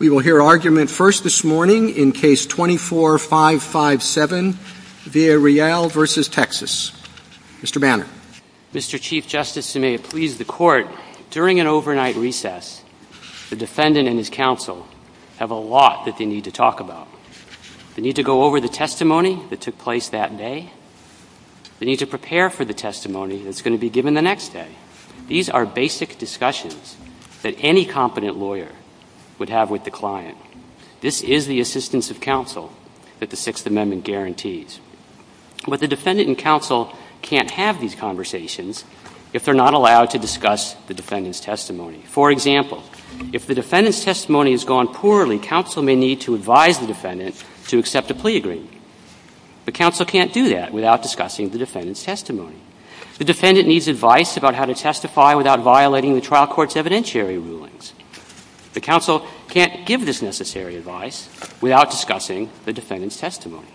We will hear argument first this morning in case 24557, Villarreal v. Texas. Mr. Banner. Mr. Chief Justice, and may it please the Court, during an overnight recess, the defendant and his counsel have a lot that they need to talk about. They need to go over the testimony that took place that day, they need to prepare for the testimony that's going to be given the next day. These are basic discussions that any competent lawyer would have with the client. This is the assistance of counsel that the Sixth Amendment guarantees. But the defendant and counsel can't have these conversations if they're not allowed to discuss the defendant's testimony. For example, if the defendant's testimony has gone poorly, counsel may need to advise the defendant to accept a plea agreement. The counsel can't do that without discussing the defendant's testimony. The defendant needs advice about how to testify without violating the trial court's evidentiary rulings. The counsel can't give this necessary advice without discussing the defendant's testimony.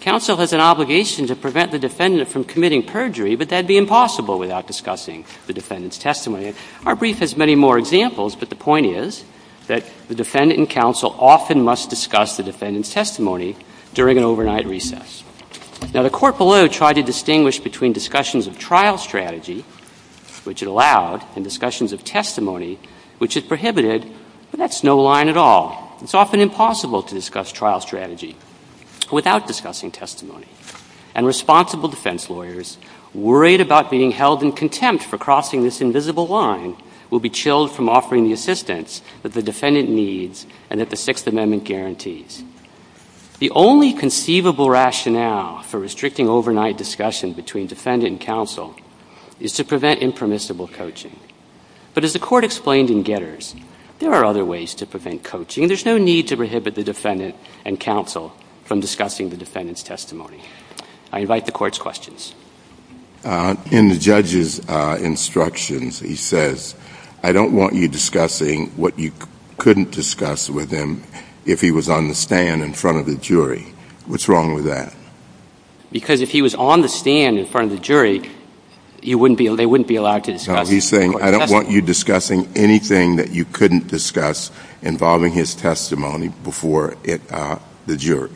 Counsel has an obligation to prevent the defendant from committing perjury, but that would be impossible without discussing the defendant's testimony. Our brief has many more examples, but the point is that the defendant and counsel often must discuss the defendant's testimony during an overnight recess. Now, the court below tried to distinguish between discussions of trial strategy, which it allowed, and discussions of testimony, which it prohibited, but that's no line at all. It's often impossible to discuss trial strategy without discussing testimony. And responsible defense lawyers worried about being held in contempt for crossing this invisible line will be chilled from offering the assistance that the defendant needs and that the Sixth Amendment guarantees. The only conceivable rationale for restricting overnight discussion between defendant and counsel is to prevent impermissible coaching. But as the court explained in Getters, there are other ways to prevent coaching. There's no need to prohibit the defendant and counsel from discussing the defendant's I invite the court's questions. In the judge's instructions, he says, I don't want you discussing what you couldn't discuss with him if he was on the stand in front of the jury. What's wrong with that? Because if he was on the stand in front of the jury, you wouldn't be, they wouldn't be allowed to discuss. He's saying, I don't want you discussing anything that you couldn't discuss involving his testimony before it, uh, the jury.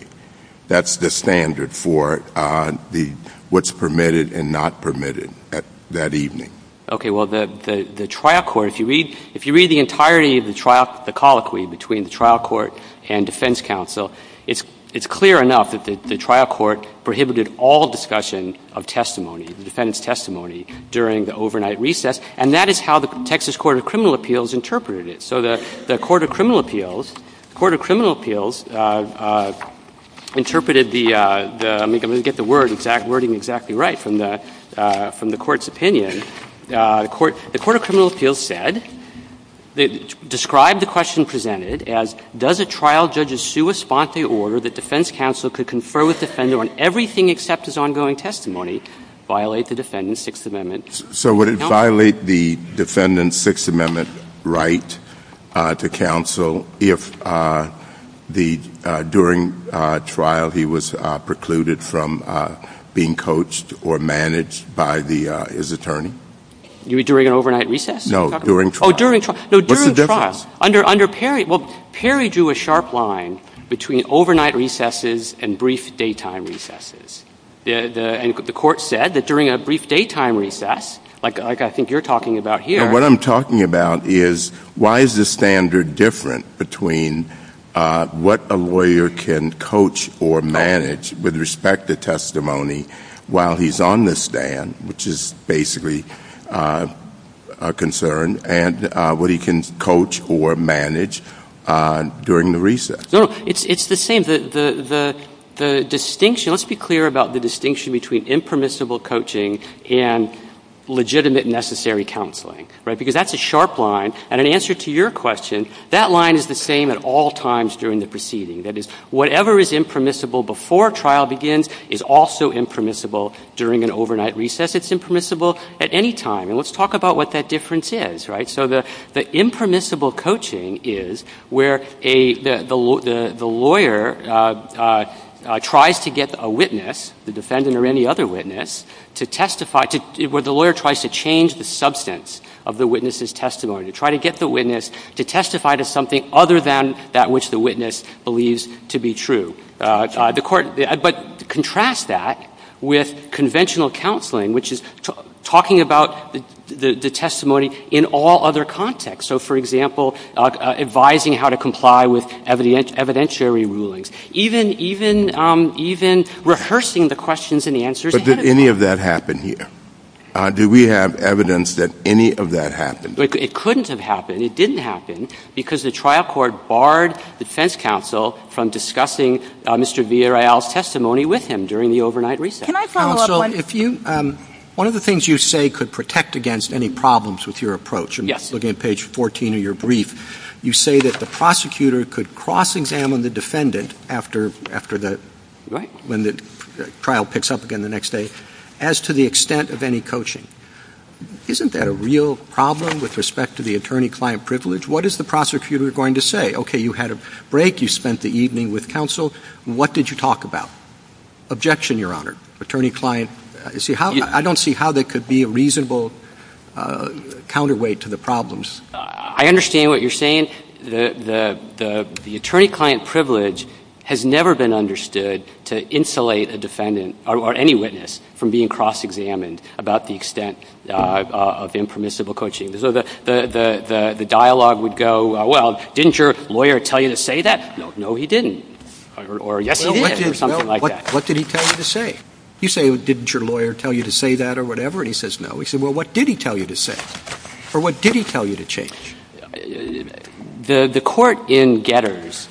That's the standard for, uh, the, what's permitted and not permitted at that evening. Okay, well, the, the, the trial court, if you read, if you read the entirety of the trial, the colloquy between the trial court and defense counsel, it's, it's clear enough that the trial court prohibited all discussion of testimony, the defendant's testimony during the overnight recess. And that is how the Texas Court of Criminal Appeals interpreted it. So the, the Court of Criminal Appeals, Court of Criminal Appeals, uh, uh, interpreted the, uh, the, I'm going to get the word exact, wording exactly right from the, uh, from the court's opinion. And, uh, the court, the Court of Criminal Appeals said, they described the question presented as, does a trial judge's sua sponte order that defense counsel could confer with the offender on everything except his ongoing testimony violate the defendant's Sixth Amendment counsel? So would it violate the defendant's Sixth Amendment right, uh, to counsel if, uh, the, the, uh, during, uh, trial, he was, uh, precluded from, uh, being coached or managed by the, uh, his attorney? You mean during an overnight recess? No, during trial. Oh, during trial. No, during trial. Under, under Perry, well, Perry drew a sharp line between overnight recesses and brief daytime recesses. The, the, and the court said that during a brief daytime recess, like, like I think you're talking about here. But what I'm talking about is why is the standard different between, uh, what a lawyer can coach or manage with respect to testimony while he's on the stand, which is basically, uh, a concern and, uh, what he can coach or manage, uh, during the recess. No, it's, it's the same. The, the, the, the distinction, let's be clear about the distinction between impermissible coaching and legitimate and necessary counseling, right? Because that's a sharp line. And in answer to your question, that line is the same at all times during the proceeding. That is whatever is impermissible before trial begins is also impermissible during an overnight recess. It's impermissible at any time. And let's talk about what that difference is, right? So the, the impermissible coaching is where a, the, the, the, the lawyer, uh, uh, uh, tries to get a witness, the defendant or any other witness, to testify to, where the lawyer tries to change the substance of the witness's testimony, to try to get the witness to testify to something other than that which the witness believes to be true. Uh, uh, the court, but contrast that with conventional counseling, which is talking about the, the testimony in all other contexts. So for example, uh, uh, advising how to comply with evidentiary rulings. Even, even, um, even rehearsing the questions and answers. But did any of that happen here? Uh, do we have evidence that any of that happened? But it couldn't have happened. It didn't happen because the trial court barred the defense counsel from discussing, uh, Mr. Villarreal's testimony with him during the overnight recess. Counsel, if you, um, one of the things you say could protect against any problems with your approach and looking at page 14 of your brief, you say that the prosecutor could cross examine the defendant after, after the, when the trial picks up again the next day as to the extent of any coaching. Isn't that a real problem with respect to the attorney-client privilege? What is the prosecutor going to say? Okay. You had a break. You spent the evening with counsel. What did you talk about? Objection, Your Honor. Attorney-client, see how, I don't see how that could be a reasonable, uh, counterweight to the problems. Uh, I understand what you're saying. The, the, the, the attorney-client privilege has never been understood to insulate a defendant or any witness from being cross examined about the extent of impermissible coaching. So the, the, the, the, the dialogue would go, well, didn't your lawyer tell you to say that? No, no, he didn't. Or, or yes, he did or something like that. What did he tell you to say? You say, well, didn't your lawyer tell you to say that or whatever? And he says, no. He said, well, what did he tell you to say? Or what did he tell you to change? The, the court in Getters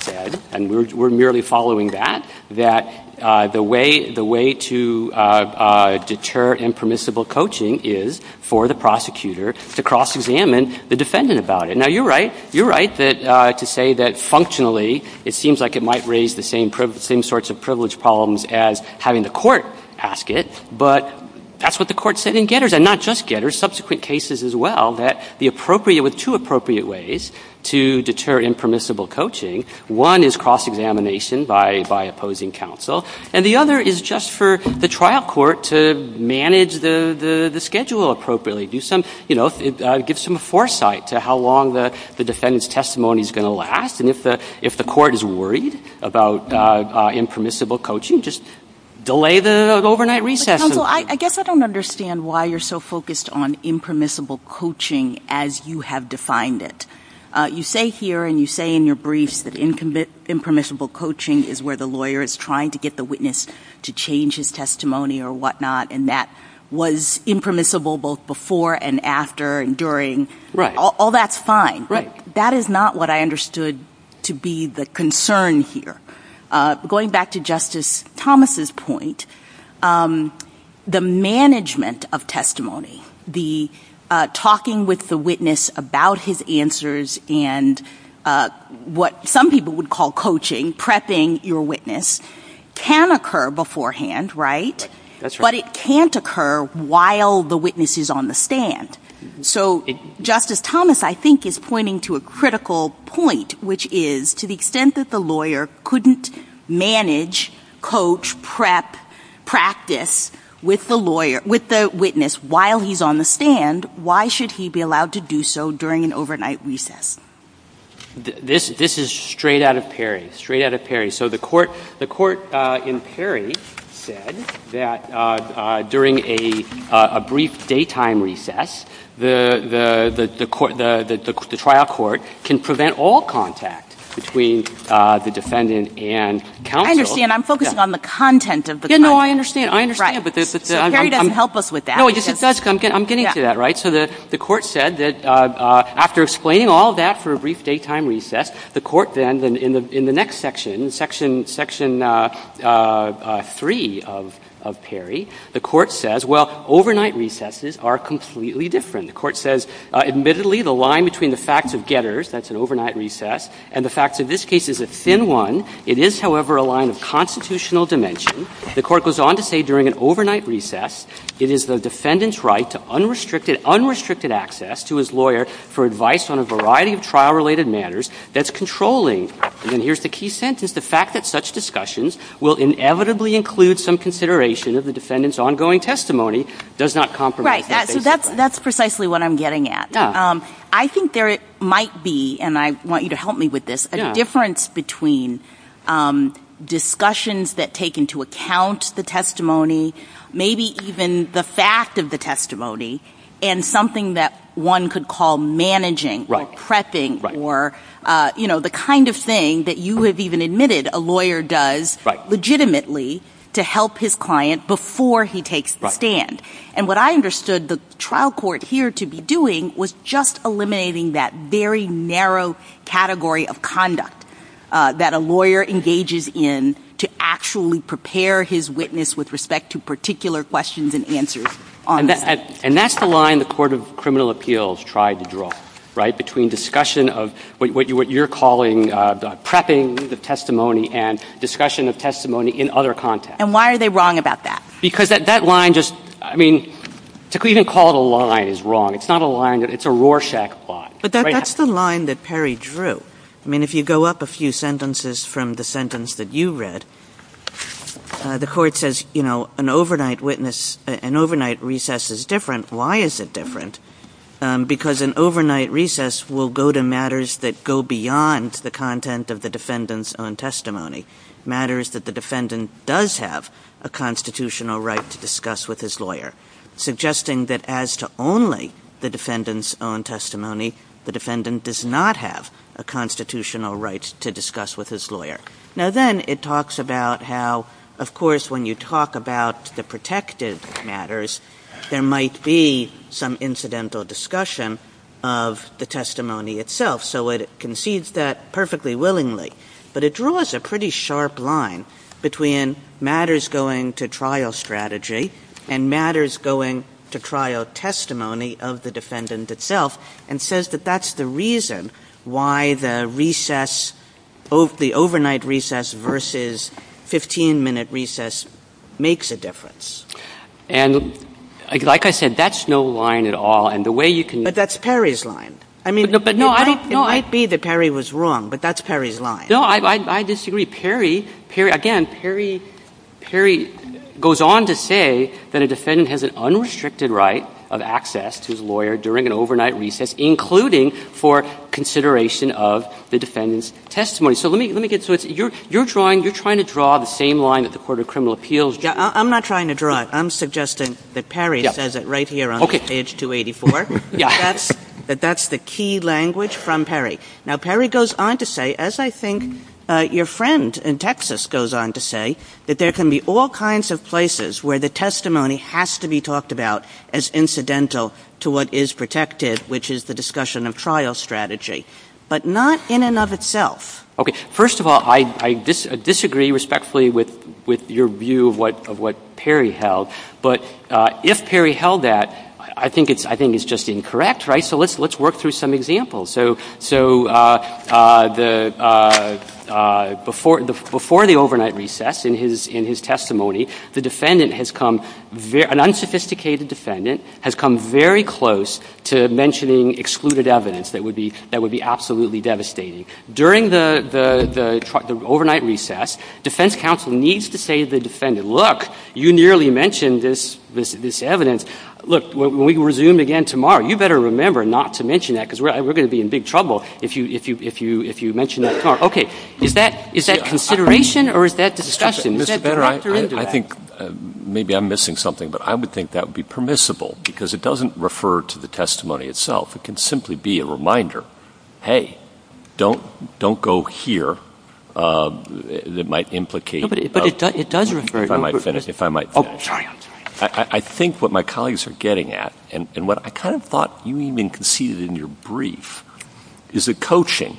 said, and we're, we're merely following that, that, uh, the way, the way to, uh, uh, deter impermissible coaching is for the prosecutor to cross examine the defendant about it. Now you're right, you're right that, uh, to say that functionally, it seems like it might raise the same, same sorts of privilege problems as having the court ask it, but that's what the court said in Getters and not just Getters, subsequent cases as well, that the appropriate with two appropriate ways to deter impermissible coaching. One is cross examination by, by opposing counsel. And the other is just for the trial court to manage the, the, the schedule appropriately, do some, you know, uh, give some foresight to how long the, the defendant's testimony is going to last. And if the, if the court is worried about, uh, uh, impermissible coaching, just delay the overnight recess. I guess I don't understand why you're so focused on impermissible coaching as you have defined it. Uh, you say here, and you say in your briefs that incommit impermissible coaching is where the lawyer is trying to get the witness to change his testimony or whatnot, and that was impermissible both before and after and during all that sign, right? That is not what I understood to be the concern here. Uh, going back to justice Thomas's point, um, the management of testimony, the, uh, talking with the witness about his answers and, uh, what some people would call coaching, prepping your witness can occur beforehand, right? That's what it can't occur while the witnesses on the stand. So justice Thomas, I think is pointing to a critical point, which is to the extent that the lawyer couldn't manage, coach, prep, practice with the lawyer, with the witness while he's on the stand, why should he be allowed to do so during an overnight recess? This, this is straight out of Perry, straight out of Perry. So the court, the court, uh, in Perry said that, uh, uh, during a, uh, a brief daytime recess, the, the, the, the court, the, the, the trial court can prevent all contact between, uh, the defendant and counsel. I understand. I'm focusing on the content of the trial. No, I understand. I understand. But there's this, I'm getting to that, right? So the, the court said that, uh, uh, after explaining all that for a brief daytime recess, the court then in the, in the next section, section, section, uh, uh, uh, three of, of Perry, the court says, well, overnight recesses are completely different. The court says, uh, admittedly, the line between the facts of getters, that's an overnight recess, and the fact that this case is a thin one. It is however, a line of constitutional dimension. The court goes on to say during an overnight recess, it is the defendant's right to unrestricted unrestricted access to his lawyer for advice on a variety of trial related matters that's controlling. And here's the key sentence. Is the fact that such discussions will inevitably include some consideration of the defendant's ongoing testimony does not compromise. That's precisely what I'm getting at. Um, I think there might be, and I want you to help me with this difference between, um, discussions that take into account the testimony, maybe even the fact of the testimony and something that one could call managing, pressing, or, uh, you know, the kind of thing that you have even admitted a lawyer does legitimately to help his client before he takes the stand. And what I understood the trial court here to be doing was just eliminating that very narrow category of conduct, uh, that a lawyer engages in to actually prepare his witness with respect to particular questions and answers on that. And that's the line, the court of criminal appeals tried to draw right between discussion of what you, what you're calling, uh, prepping the testimony and discussion of testimony in other contexts. And why are they wrong about that? Because that, that line just, I mean, to even call it a line is wrong. It's not a line that it's a Rorschach plot. But that's the line that Perry drew. I mean, if you go up a few sentences from the sentence that you read, uh, the court says, you know, an overnight witness, an overnight recess is different. Why is it different? Um, because an overnight recess will go to matters that go beyond the content of the defendant's own testimony matters that the defendant does have a constitutional right to discuss with his lawyer, suggesting that as to only the defendant's own testimony, the defendant does not have a constitutional rights to discuss with his lawyer. Now, then it talks about how, of course, when you talk about the protective matters, there might be some incidental discussion of the testimony itself. So it concedes that perfectly willingly, but it draws a pretty sharp line between matters going to trial strategy and matters going to trial testimony of the defendant itself and says that that's the reason why the recess of the overnight recess versus 15 minute recess makes a difference. And like I said, that's no line at all. And the way you can, but that's Perry's line. I mean, it might be that Perry was wrong, but that's Perry's line. No, I disagree. Perry, Perry, again, Perry, Perry goes on to say that a defendant has an unrestricted right of access to his lawyer during an overnight recess, including for consideration of the defendant's testimony. So let me, let me get, so it's, you're, you're drawing, you're trying to draw the same line at the court of criminal appeals. I'm not trying to draw it. I'm suggesting that Perry says it right here on page 284, that that's the key language from Perry. Now, Perry goes on to say, as I think your friend in Texas goes on to say that there can be all kinds of places where the testimony has to be talked about as incidental to what is protected, which is the discussion of trial strategy, but not in and of itself. Okay. First of all, I, I disagree respectfully with, with your view of what, of what Perry held, but if Perry held that, I think it's, I think it's just incorrect, right? So let's, let's work through some examples. So, so the, before, before the overnight recess in his, in his testimony, the defendant has come, an unsophisticated defendant has come very close to mentioning excluded evidence that would be, that would be absolutely devastating. During the, the, the overnight recess, defense counsel needs to say to the defendant, you clearly mentioned this, this, this evidence, look, when we resume again tomorrow, you better remember not to mention that because we're, we're going to be in big trouble if you, if you, if you, if you mentioned that tomorrow. Okay. Is that, is that consideration or is that the discussion? I think maybe I'm missing something, but I would think that would be permissible because it doesn't refer to the testimony itself. It can simply be a reminder. Hey, don't, don't go here. Um, that might implicate, but it does, it does refer to, if I might finish, if I might finish, I think what my colleagues are getting at and what I kind of thought you even conceded in your brief is that coaching,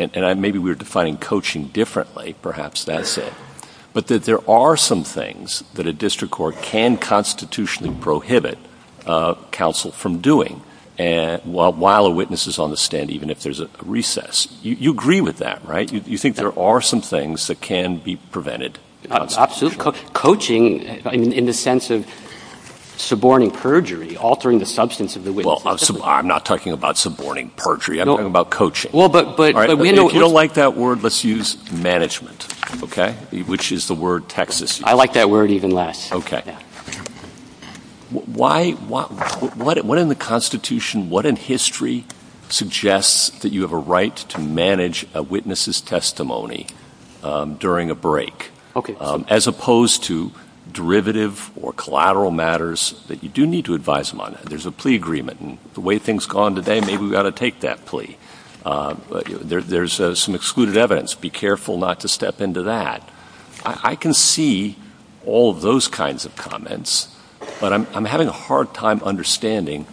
and I, maybe we were defining coaching differently, perhaps that's it, but that there are some things that a district court can constitutionally prohibit, uh, counsel from doing. And while, while a witness is on the stand, even if there's a recess, you agree with that, right? You think there are some things that can be prevented? Coaching in the sense of suborning perjury, altering the substance of the witness. I'm not talking about suborning perjury. I'm talking about coaching. Well, but, but if you don't like that word, let's use management. Okay. Which is the word Texas. I like that word even less. Why, what, what, what in the constitution, what in history suggests that you have a right to manage a witness's testimony, um, during a break, um, as opposed to derivative or collateral matters that you do need to advise them on. There's a plea agreement and the way things gone today, maybe we've got to take that plea. Um, but there, there's some excluded evidence. Be careful not to step into that. I can see all those kinds of comments, but I'm, I'm having a hard time understanding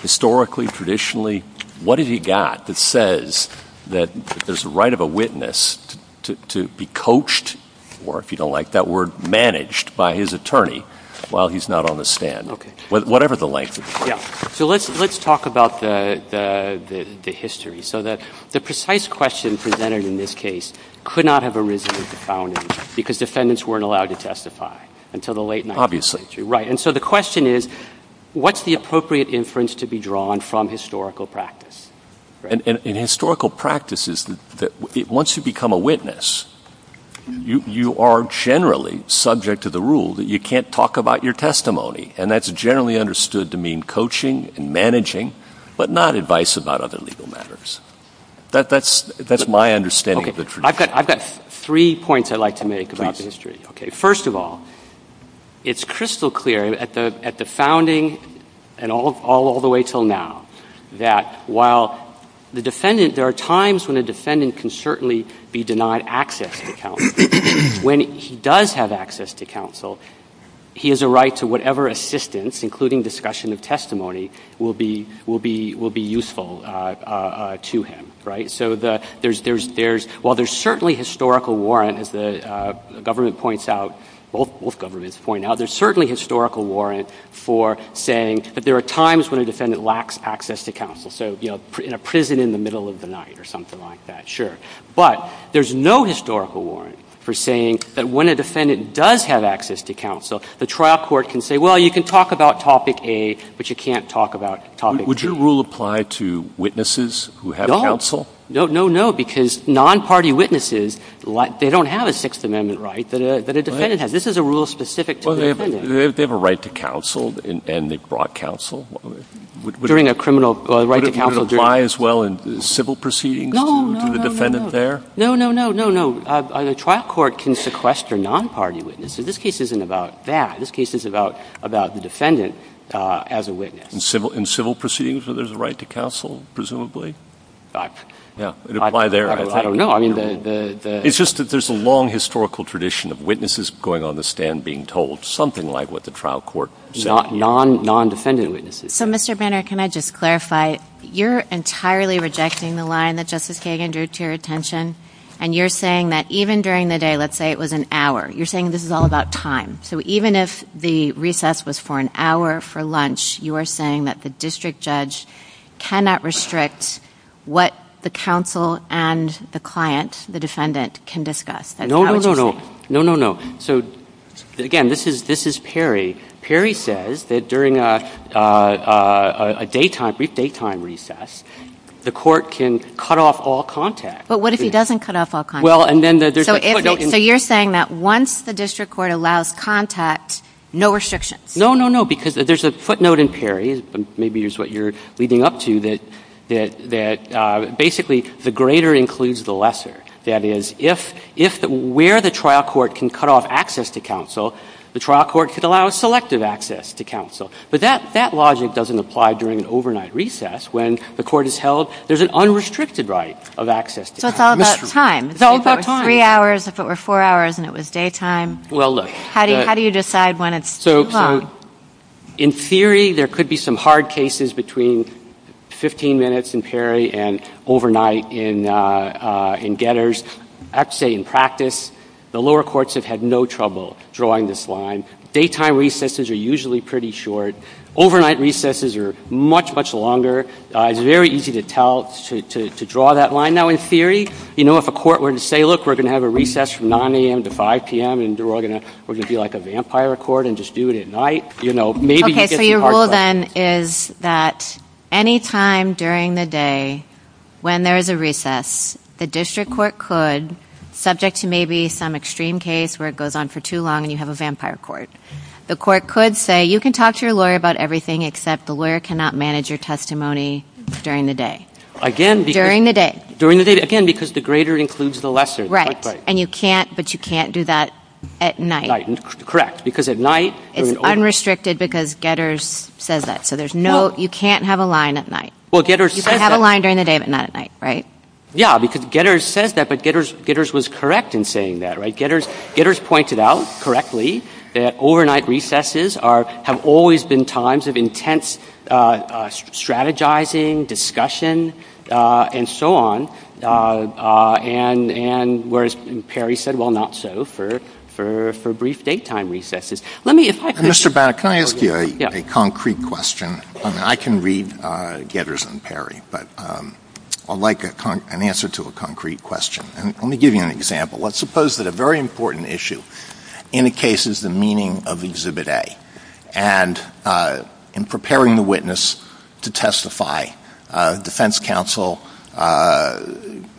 historically, traditionally, what has he got that says that there's a right of a witness to, to be coached, or if you don't like that word managed by his attorney while he's not on the stand, whatever the length of it. So let's, let's talk about the, the, the, the history. So that the precise question presented in this case could not have arisen at the founding because defendants weren't allowed to testify until the late 19th century. Right. And so the question is, what's the appropriate inference to be drawn from historical practice? And in historical practices that once you become a witness, you, you are generally subject to the rule that you can't talk about your testimony. And that's generally understood to mean coaching and managing, but not advice about other legal matters. That that's, that's my understanding. I've got, I've got three points I'd like to make about the history. Okay. First of all, it's crystal clear at the, at the founding and all, all, all the way till now, that while the defendant, there are times when the defendant can certainly be denied access to counsel, when he does have access to counsel, he has a right to whatever assistance, including discussion of testimony will be, will be, will be useful to him. Right. So the, there's, there's, there's, while there's certainly historical warrant as the government points out, both, both governments point out, there's certainly historical warrant for saying, but there are times when a defendant lacks access to So, you know, in a prison in the middle of the night or something like that. Sure. But there's no historical warrant for saying that when a defendant does have access to counsel, the trial court can say, well, you can talk about topic A, but you can't talk about topic B. Would your rule apply to witnesses who have counsel? No, no, no. Because non-party witnesses, they don't have a Sixth Amendment right that a, that a defendant has. This is a rule specific to the defendant. Well, they have a right to counsel and they brought counsel. During a criminal, a right to counsel during a... Would it apply as well in civil proceedings? No, no, no, no, no. To the defendant there? No, no, no, no, no. A trial court can sequester non-party witnesses. This case isn't about that. This case is about, about the defendant as a witness. In civil, in civil proceedings where there's a right to counsel, presumably? Yeah. It would apply there. I don't know. I mean, the, the... It's just that there's a long historical tradition of witnesses going on the stand being told something like what the trial court said. Non, non, non-defendant witnesses. So, Mr. Banner, can I just clarify? You're entirely rejecting the line that Justice Kagan drew to your attention, and you're saying that even during the day, let's say it was an hour, you're saying this is all about time. So even if the recess was for an hour for lunch, you are saying that the district judge cannot restrict what the counsel and the client, the defendant, can discuss? No, no, no, no. No, no, no. So, again, this is, this is Perry. Perry says that during a, a, a, a daytime, brief daytime recess, the court can cut off all contact. But what if he doesn't cut off all contact? Well, and then there's... So you're saying that once the district court allows contact, no restrictions? No, no, no, because there's a footnote in Perry. Maybe it's what you're leading up to that, that, that basically the greater includes the lesser. That is, if, if where the trial court can cut off access to counsel, the trial court could allow selective access to counsel. But that, that logic doesn't apply during an overnight recess when the court is held. There's an unrestricted right of access to counsel. So it's all about time. It's all about time. If it was three hours, if it were four hours and it was daytime. Well, look. How do you, how do you decide when it's slow? So, so in theory, there could be some hard cases between 15 minutes in Perry and overnight in, in Getters. I'd say in practice, the lower courts have had no trouble drawing this line. Daytime recesses are usually pretty short. Overnight recesses are much, much longer. It's very easy to tell, to, to, to draw that line. Now, in theory, you know, if a court were to say, look, we're going to have a recess from 9 a.m. to 5 p.m. and we're going to, we're going to be like a vampire court and just do it at night. You know, maybe you get the hard part. So your rule then is that any time during the day when there is a recess, the district court could, subject to maybe some extreme case where it goes on for too long and you have a vampire court. The court could say, you can talk to your lawyer about everything except the lawyer cannot manage your testimony during the day. Again. During the day. During the day. Again, because the greater includes the lesser. Right. And you can't, but you can't do that at night. Right. Correct. Because at night. It's unrestricted because Getters says that. So there's no, you can't have a line at night. Well, Getters said that. You can have a line during the day, but not at night. Right. Yeah. Because Getters said that, but Getters, Getters was correct in saying that. Right. Getters, Getters pointed out correctly that overnight recesses are, have always been times of intense strategizing, discussion, and so on. And, and whereas Perry said, well, not so for, for, for brief daytime recesses. Let me, if I could. Mr. Back, can I ask you a concrete question? I mean, I can read Getters and Perry, but I'd like an answer to a concrete question. Let me give you an example. Let's suppose that a very important issue in a case is the meaning of Exhibit A. And in preparing the witness to testify, defense counsel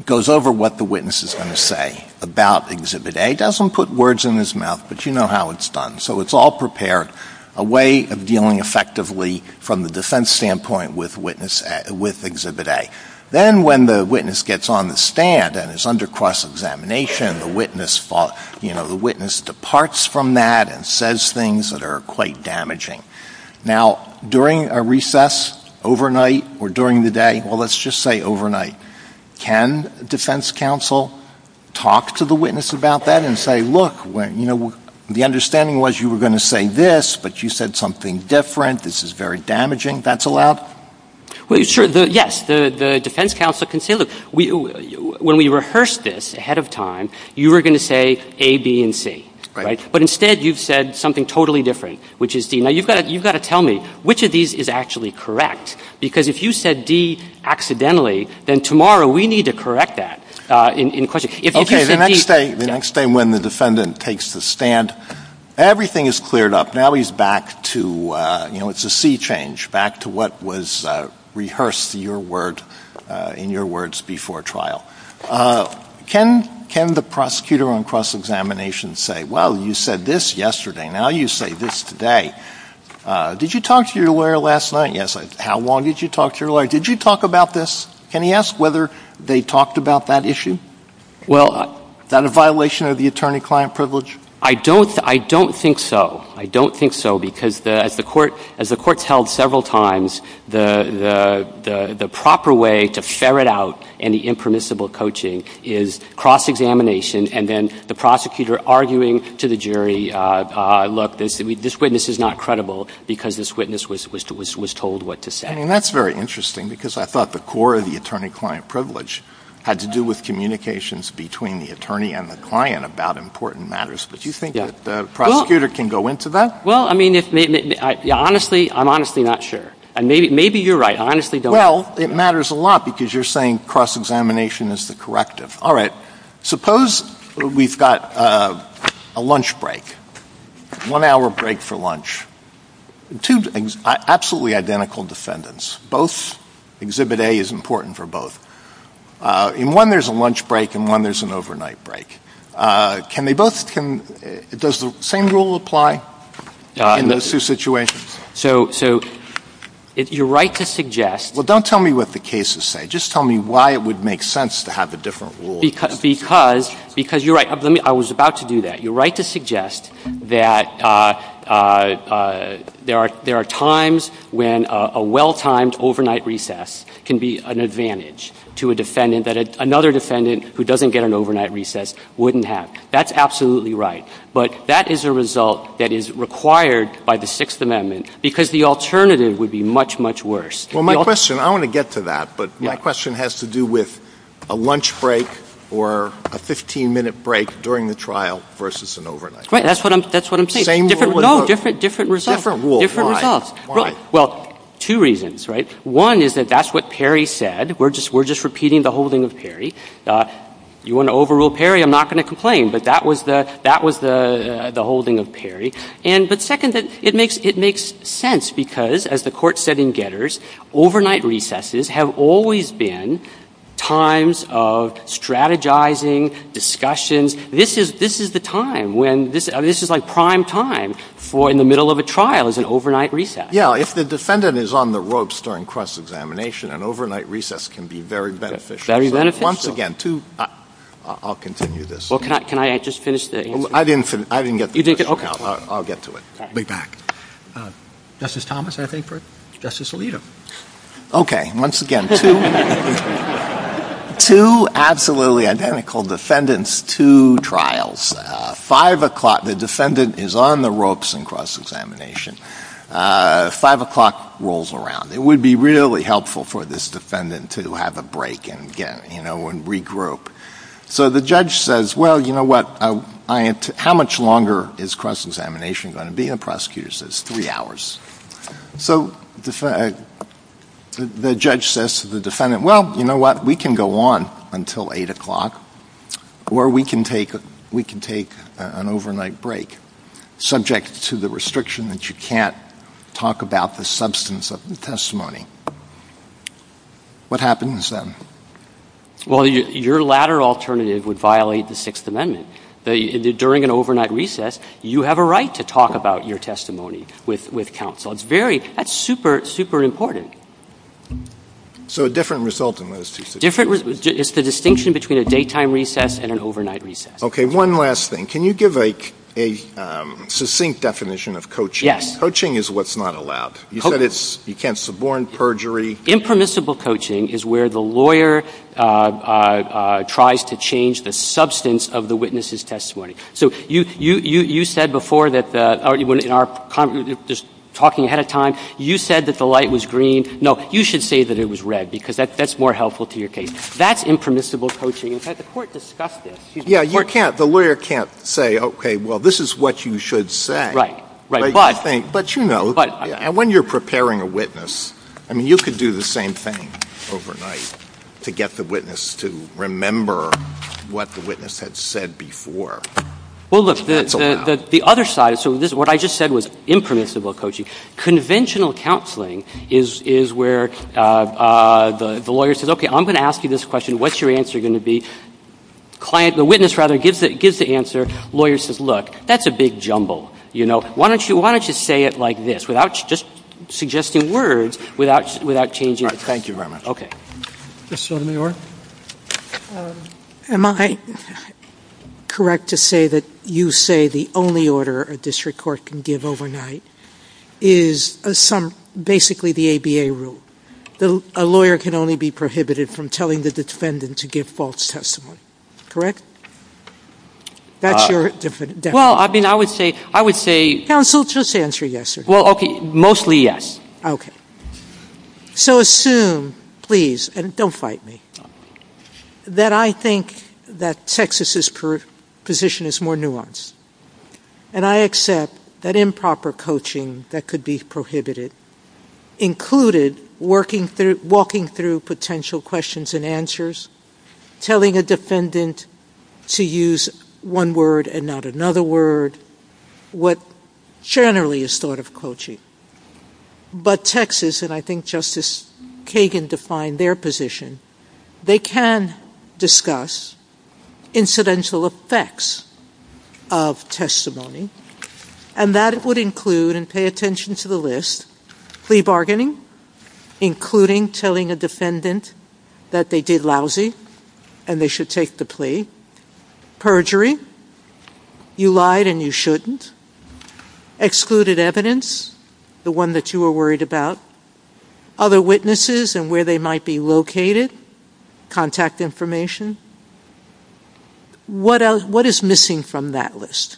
goes over what the witness is going to say about Exhibit A. Doesn't put words in his mouth, but you know how it's done. So it's all prepared, a way of dealing effectively from the defense standpoint with witness, with Exhibit A. Then when the witness gets on the stand and is under cross-examination, the witness, you know, the witness departs from that and says things that are quite damaging. Now, during a recess overnight or during the day, well, let's just say overnight, can defense counsel talk to the witness about that and say, look, you know, the understanding was you were going to say this, but you said something different. This is very damaging. That's allowed? Well, sure. Yes. The defense counsel can say, look, when we rehearsed this ahead of time, you were going to say A, B, and C, right? But instead, you've said something totally different, which is D. Now, you've got to tell me, which of these is actually correct? Because if you said D accidentally, then tomorrow we need to correct that in question. Okay, the next day when the defendant takes the stand, everything is cleared up. Values back to, you know, it's a C change, back to what was rehearsed in your words before trial. Can the prosecutor on cross-examination say, well, you said this yesterday. Now you say this today. Did you talk to your lawyer last night? Yes. How long did you talk to your lawyer? Did you talk about this? Can he ask whether they talked about that issue? Well, is that a violation of the attorney-client privilege? I don't think so. I don't think so because as the court has held several times, the proper way to ferret out any impermissible coaching is cross-examination and then the prosecutor arguing to the jury, look, this witness is not credible because this witness was told what to say. I mean, that's very interesting because I thought the core of the attorney-client privilege had to do with communications between the attorney and the client about important matters. Do you think that the prosecutor can go into that? Well, I mean, honestly, I'm honestly not sure. Maybe you're right. I honestly don't know. Well, it matters a lot because you're saying cross-examination is the corrective. All right. Suppose we've got a lunch break, one hour break for lunch. Two absolutely identical defendants. Both, Exhibit A is important for both. In one there's a lunch break and in one there's an overnight break. Does the same rule apply in those two situations? So you're right to suggest... Well, don't tell me what the cases say. Just tell me why it would make sense to have a different rule. Because you're right. I was about to do that. You're right to suggest that there are times when a well-timed overnight recess can be an advantage to a defendant that another defendant who doesn't get an overnight recess wouldn't have. That's absolutely right. But that is a result that is required by the Sixth Amendment because the alternative would be much, much worse. Well, my question, I don't want to get to that, but my question has to do with a lunch break or a 15-minute break during the trial versus an overnight. Right. That's what I'm saying. Different rules. No, different results. Well, two reasons. One is that that's what Perry said. We're just repeating the holding of Perry. You want to overrule Perry, I'm not going to complain. But that was the holding of Perry. But second, it makes sense because, as the Court said in Getters, overnight recesses have always been times of strategizing, discussions. This is the time when this is like prime time for in the middle of a trial is an overnight recess. Yeah. If the defendant is on the ropes during cross-examination, an overnight recess can be very beneficial. Once again, I'll continue this. Can I just finish this? I didn't get to it. Okay. I'll get to it. I'll be back. Justice Thomas, anything for Justice Alito? Okay. Once again, two absolutely identical defendants, two trials. Five o'clock, the defendant is on the ropes in cross-examination. Five o'clock rolls around. It would be really helpful for this defendant to have a break and regroup. So the judge says, well, you know what, how much longer is cross-examination going to be? And the prosecutor says, three hours. So the judge says to the defendant, well, you know what? We can go on until eight o'clock, or we can take an overnight break, subject to the restriction that you can't talk about the substance of the testimony. What happens then? Well, your latter alternative would violate the Sixth Amendment. During an overnight recess, you have a right to talk about your testimony with counsel. That's super, super important. So a different result in those two situations. It's the distinction between a daytime recess and an overnight recess. Okay. One last thing. Can you give a succinct definition of coaching? Yes. Coaching is what's not allowed. You said you can't suborn perjury. Impermissible coaching is where the lawyer tries to change the substance of the witness's testimony. So you said before that, just talking ahead of time, you said that the light was green. No, you should say that it was red, because that's more helpful to your case. That's impermissible coaching. In fact, the Court discussed this. Yeah, the lawyer can't say, okay, well, this is what you should say. Right, right. But you know, when you're preparing a witness, I mean, you could do the same thing overnight to get the witness to remember what the witness had said before. Well, look, the other side of this, what I just said was impermissible coaching. Conventional counseling is where the lawyer says, okay, I'm going to ask you this question. What's your answer going to be? The witness, rather, gives the answer. The lawyer says, look, that's a big jumble, you know. Why don't you say it like this, without just suggesting words, without changing it? Thank you, Robert. Okay. Mr. Sotomayor? Am I correct to say that you say the only order a district court can give overnight is basically the ABA rule? A lawyer can only be prohibited from telling the defendant to give false testimony, correct? That's your definition? Well, I mean, I would say — Counsel, just answer yes or no. Well, okay, mostly yes. Okay. So assume, please, and don't fight me, that I think that Texas' position is more nuanced. And I accept that improper coaching that could be prohibited included walking through potential questions and answers, telling a defendant to use one word and not another word, what generally is thought of coaching. But Texas, and I think Justice Kagan defined their position, they can discuss incidental effects of testimony. And that would include, and pay attention to the list, free bargaining, including telling a defendant that they did lousy and they should take the plea, perjury, you lied and you shouldn't, excluded evidence, the one that you were worried about, other witnesses and where they might be located, contact information. What is missing from that list?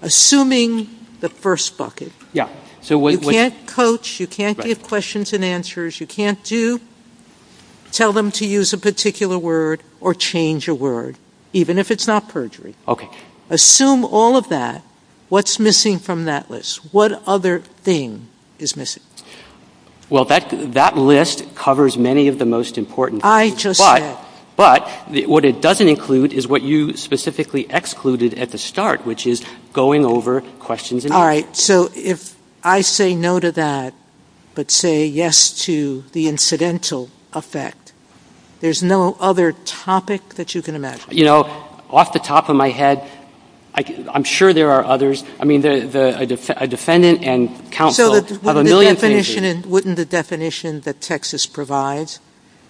Assuming the first bucket. Yeah. You can't coach. You can't give questions and answers. You can't tell them to use a particular word or change a word, even if it's not perjury. Okay. Assume all of that. What's missing from that list? What other thing is missing? Well, that list covers many of the most important things. But what it doesn't include is what you specifically excluded at the start, which is going over questions and answers. All right. So if I say no to that, but say yes to the incidental effect, there's no other topic that you can imagine? You know, off the top of my head, I'm sure there are others. I mean, a defendant and counsel of a million families. So wouldn't the definition that Texas provides,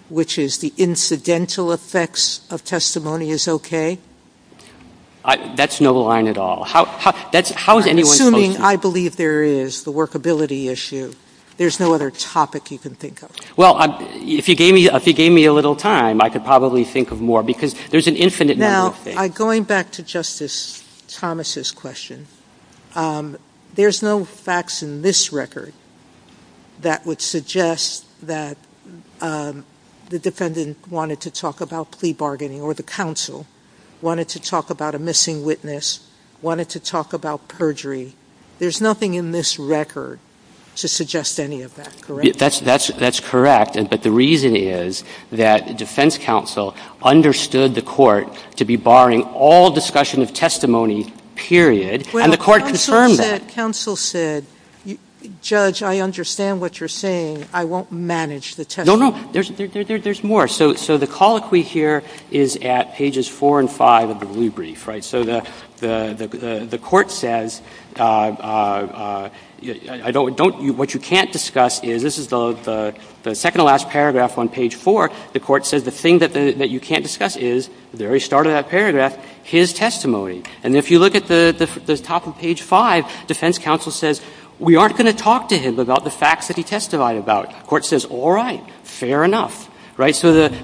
which is the incidental effects of testimony, is okay? That's no line at all. Assuming I believe there is the workability issue, there's no other topic you can think of? Well, if you gave me a little time, I could probably think of more, because there's an infinite number of things. Now, going back to Justice Thomas' question, there's no facts in this record that would suggest that the defendant wanted to talk about plea bargaining or the counsel wanted to talk about a missing witness, wanted to talk about perjury. There's nothing in this record to suggest any of that, correct? That's correct. But the reason is that defense counsel understood the court to be barring all discussion of testimony, period, and the court confirmed that. Counsel said, Judge, I understand what you're saying. I won't manage the testimony. No, no. There's more. So the colloquy here is at pages 4 and 5 of the blue brief. So the court says, what you can't discuss is, this is the second to last paragraph on page 4, the court says the thing that you can't discuss is, the very start of that paragraph, his testimony. And if you look at the top of page 5, defense counsel says, we aren't going to talk to him about the facts that he testified about. The court says, all right, fair enough. We can read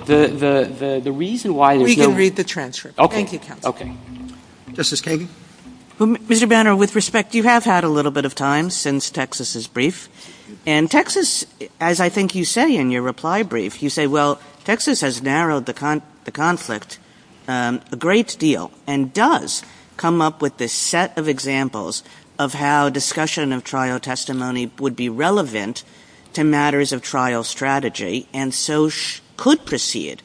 the transcript. Thank you, Kevin. Justice Kagan? Mr. Banner, with respect, you have had a little bit of time since Texas' brief. And Texas, as I think you say in your reply brief, you say, well, Texas has narrowed the conflict a great deal and does come up with this set of examples of how discussion of trial testimony would be relevant to matters of trial strategy and so could proceed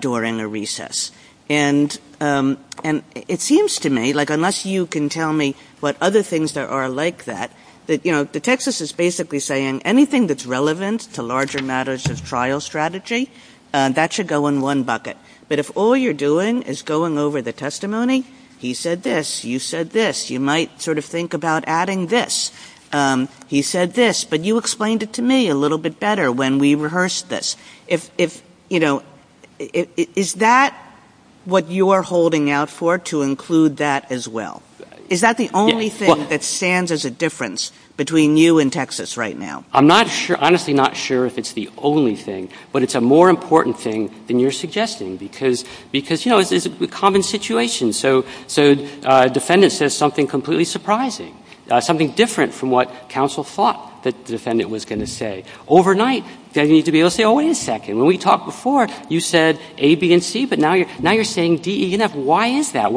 during a recess. And it seems to me, like unless you can tell me what other things there are like that, that Texas is basically saying anything that's relevant to larger matters of trial strategy, that should go in one bucket. But if all you're doing is going over the testimony, he said this, you said this, you might sort of think about adding this, he said this, but you explained it to me a little bit better when we rehearsed this. If, you know, is that what you are holding out for, to include that as well? Is that the only thing that stands as a difference between you and Texas right now? I'm not sure, honestly not sure if it's the only thing, but it's a more important thing than you're suggesting because, you know, it's a common situation. So defendant says something completely surprising, something different from what counsel thought the defendant was going to say. Overnight, they need to be able to say, oh, wait a second, when we talked before, you said A, B, and C, but now you're saying D, E, and F, why is that?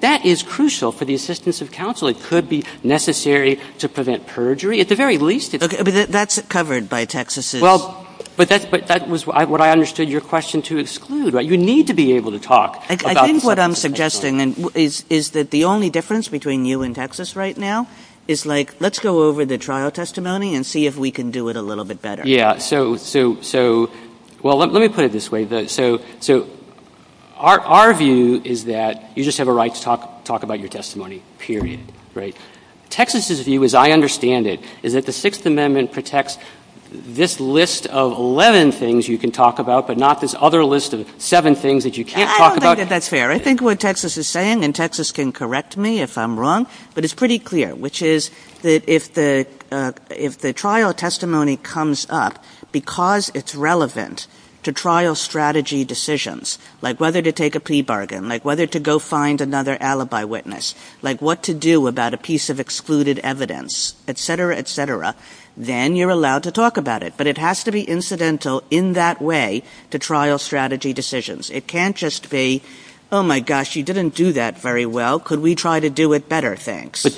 That is crucial for the assistance of counsel. It could be necessary to prevent perjury, at the very least. Okay, but that's covered by Texas' Well, but that was what I understood your question to exclude. You need to be able to talk about I think what I'm suggesting is that the only difference between you and Texas right now is, like, let's go over the trial testimony and see if we can do it a little bit better. Yeah, so, well, let me put it this way. So our view is that you just have a right to talk about your testimony, period, right? Texas' view, as I understand it, is that the Sixth Amendment protects this list of 11 things you can talk about, but not this other list of seven things that you can't talk about. I don't think that that's fair. I think what Texas is saying, and Texas can correct me if I'm wrong, but it's pretty clear, which is that if the trial testimony comes up because it's relevant to trial strategy decisions, like whether to take a pea bargain, like whether to go find another alibi witness, like what to do about a piece of excluded evidence, et cetera, et cetera, then you're allowed to talk about it, but it has to be incidental in that way to trial strategy decisions. It can't just be, oh, my gosh, you didn't do that very well. Could we try to do it better? Thanks. But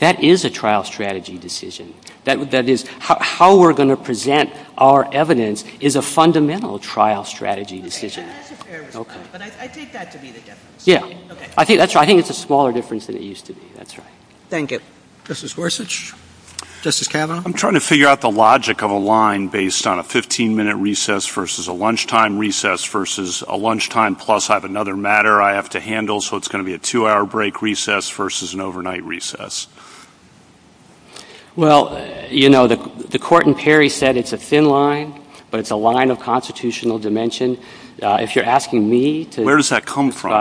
that is a trial strategy decision. That is, how we're going to present our evidence is a fundamental trial strategy decision. But I take that to mean a difference. Yeah. I think that's right. I think it's a smaller difference than it used to be. That's right. Thank you. Justice Gorsuch? Justice Kavanaugh? I'm trying to figure out the logic of a line based on a 15-minute recess versus a lunchtime recess versus a lunchtime plus I have another matter I have to handle, so it's going to be a two-hour break recess versus an overnight recess. Well, you know, the court in Perry said it's a thin line, but it's a line of constitutional dimension. If you're asking me to… Where does that come from?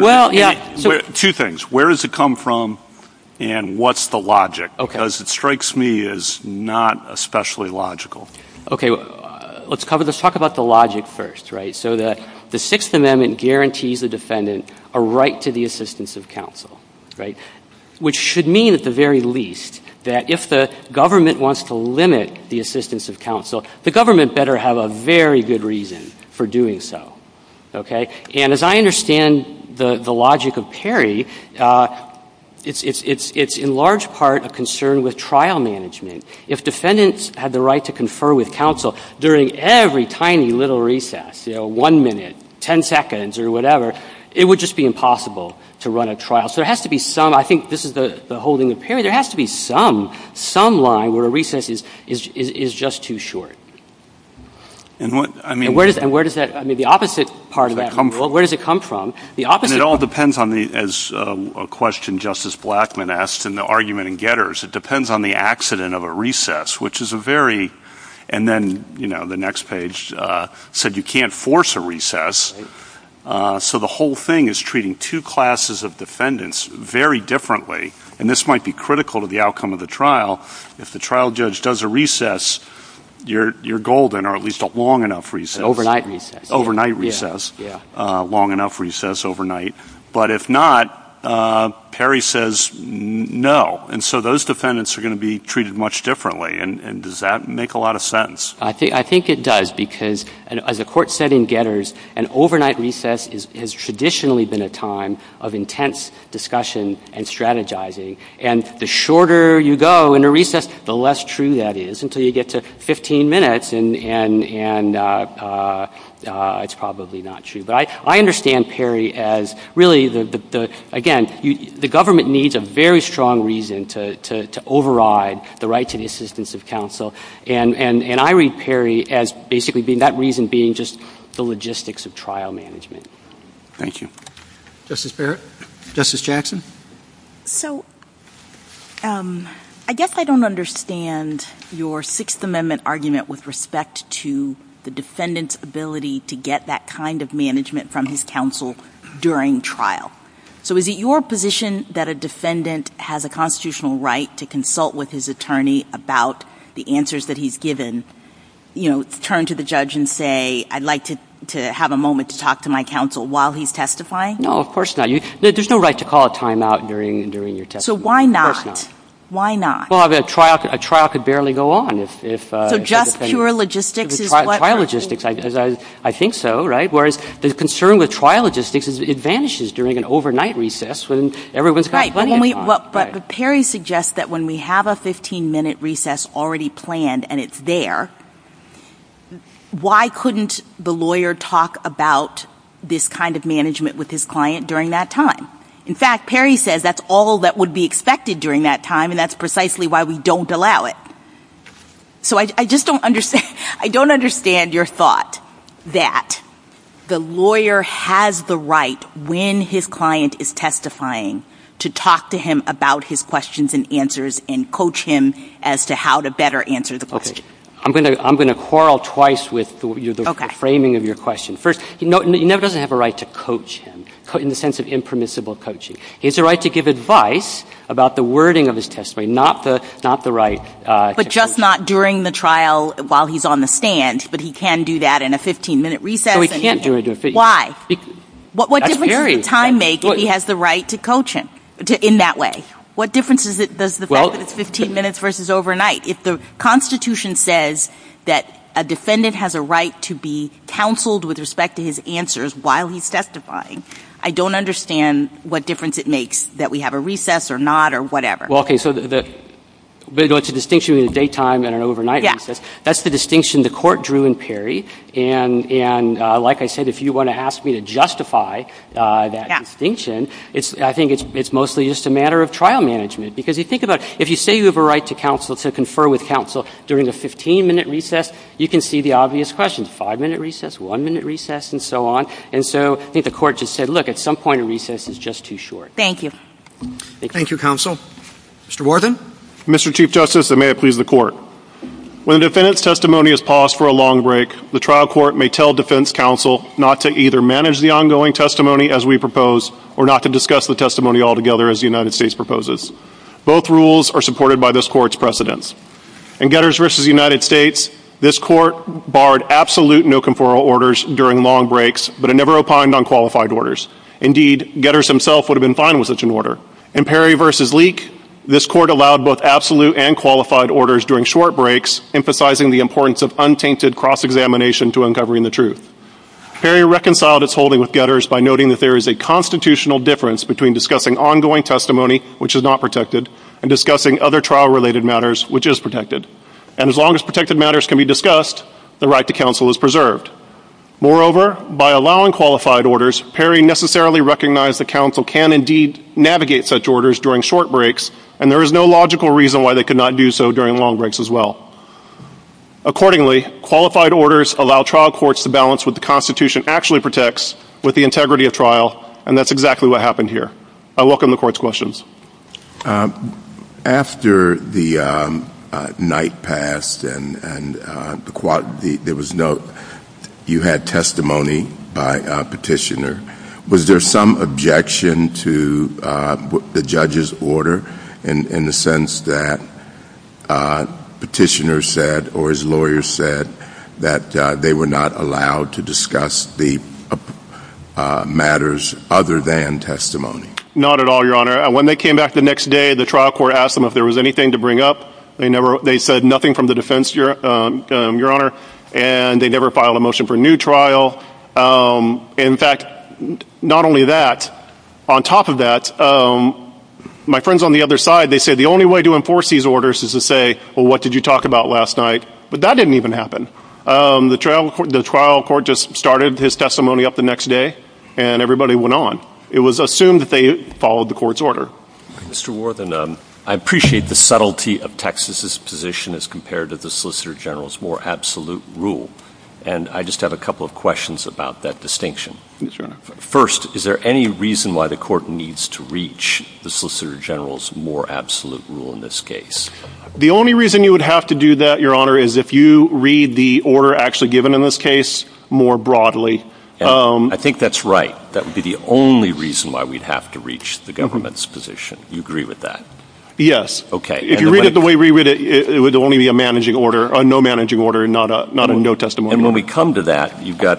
Well, yeah. Two things. Where does it come from and what's the logic? Because it strikes me as not especially logical. Okay. Let's talk about the logic first. So the Sixth Amendment guarantees the defendant a right to the assistance of counsel, which should mean at the very least that if the government wants to limit the assistance of counsel, the government better have a very good reason for doing so. Okay. And as I understand the logic of Perry, it's in large part a concern with trial management. If defendants had the right to confer with counsel during every tiny little recess, you know, one minute, ten seconds or whatever, it would just be impossible to run a trial. So there has to be some, I think this is the holding of Perry, there has to be some, some line where a recess is just too short. And what, I mean… And where does that, I mean the opposite part of that rule, where does it come from? The opposite… And it all depends on the, as a question Justice Blackmun asked in the argument in Getters, it depends on the accident of a recess, which is a very… And then, you know, the next page said you can't force a recess. So the whole thing is treating two classes of defendants very differently. And this might be critical to the outcome of the trial. If the trial judge does a recess, you're golden, or at least a long enough recess. Overnight recess. Overnight recess. Long enough recess overnight. But if not, Perry says no. And so those defendants are going to be treated much differently. And does that make a lot of sense? I think it does, because as the court said in Getters, an overnight recess has traditionally been a time of intense discussion and strategizing. And the shorter you go in a recess, the less true that is, until you get to 15 minutes, and it's probably not true. But I understand Perry as really, again, the government needs a very strong reason to override the right to the assistance of counsel. And I read Perry as basically that reason being just the logistics of trial management. Thank you. Justice Barrett? Justice Jackson? So I guess I don't understand your Sixth Amendment argument with respect to the defendant's ability to get that kind of management from his counsel during trial. So is it your position that a defendant has a constitutional right to consult with his attorney about the answers that he's given, you know, turn to the judge and say, I'd like to have a moment to talk to my counsel while he's testifying? No, of course not. There's no right to call a timeout during your testimony. So why not? Of course not. Why not? Well, a trial could barely go on if a defendant- So just pure logistics is what- Trial logistics, I think so, right? Whereas the concern with trial logistics is it vanishes during an overnight recess when everyone's got plenty of time. But Perry suggests that when we have a 15-minute recess already planned and it's there, why couldn't the lawyer talk about this kind of management with his client during that time? In fact, Perry says that's all that would be expected during that time, and that's precisely why we don't allow it. So I just don't understand your thought that the lawyer has the right, when his client is testifying, to talk to him about his questions and answers and coach him as to how to better answer the question. I'm going to quarrel twice with the framing of your question. First, he never does have a right to coach him in the sense of impermissible coaching. He has a right to give advice about the wording of his testimony, not the right- But just not during the trial while he's on the stand, but he can do that in a 15-minute recess? No, he can't do it. Why? What difference does time make if he has the right to coach him in that way? What difference does it make if it's 15 minutes versus overnight? If the Constitution says that a defendant has a right to be counseled with respect to his answers while he's testifying, I don't understand what difference it makes that we have a recess or not or whatever. Okay, so there's a distinction between a daytime and an overnight recess. That's the distinction the court drew in Perry, and like I said, if you want to ask me to justify that distinction, I think it's mostly just a matter of trial management. Because if you think about it, if you say you have a right to counsel, to confer with counsel, during a 15-minute recess, you can see the obvious questions. Five-minute recess, one-minute recess, and so on. And so I think the court just said, look, at some point, a recess is just too short. Thank you. Thank you, counsel. Mr. Wharton? Mr. Chief Justice, and may it please the Court, when a defendant's testimony is paused for a long break, the trial court may tell defense counsel not to either manage the ongoing testimony as we propose or not to discuss the testimony altogether as the United States proposes. Both rules are supported by this Court's precedents. In Getters v. United States, this Court barred absolute no-conferral orders during long breaks, but it never opined on qualified orders. Indeed, Getters himself would have been fine with such an order. In Perry v. Leake, this Court allowed both absolute and qualified orders during short breaks, emphasizing the importance of untainted cross-examination to uncovering the truth. Perry reconciled its holding with Getters by noting that there is a constitutional difference between discussing ongoing testimony, which is not protected, and discussing other trial-related matters, which is protected. And as long as protected matters can be discussed, the right to counsel is preserved. Moreover, by allowing qualified orders, Perry necessarily recognized that counsel can indeed navigate such orders during short breaks, and there is no logical reason why they could not do so during long breaks as well. Accordingly, qualified orders allow trial courts to balance what the Constitution actually protects with the integrity of trial, and that's exactly what happened here. I welcome the Court's questions. After the night passed and you had testimony by petitioner, was there some objection to the judge's order in the sense that petitioner said or his lawyer said that they were not allowed to discuss the matters other than testimony? Not at all, Your Honor. When they came back the next day, the trial court asked them if there was anything to bring up. They said nothing from the defense, Your Honor, and they never filed a motion for new trial. In fact, not only that, on top of that, my friends on the other side, they said the only way to enforce these orders is to say, well, what did you talk about last night? But that didn't even happen. The trial court just started his testimony up the next day, and everybody went on. It was assumed that they followed the Court's order. Mr. Worthen, I appreciate the subtlety of Texas's position as compared to the Solicitor General's more absolute rule, and I just have a couple of questions about that distinction. Please, Your Honor. First, is there any reason why the Court needs to reach the Solicitor General's more absolute rule in this case? The only reason you would have to do that, Your Honor, is if you read the order actually given in this case more broadly. I think that's right. That would be the only reason why we'd have to reach the government's position. Do you agree with that? Yes. Okay. If you read it the way we read it, it would only be a managing order, a no-managing order, not a no testimony. And when we come to that, you've got,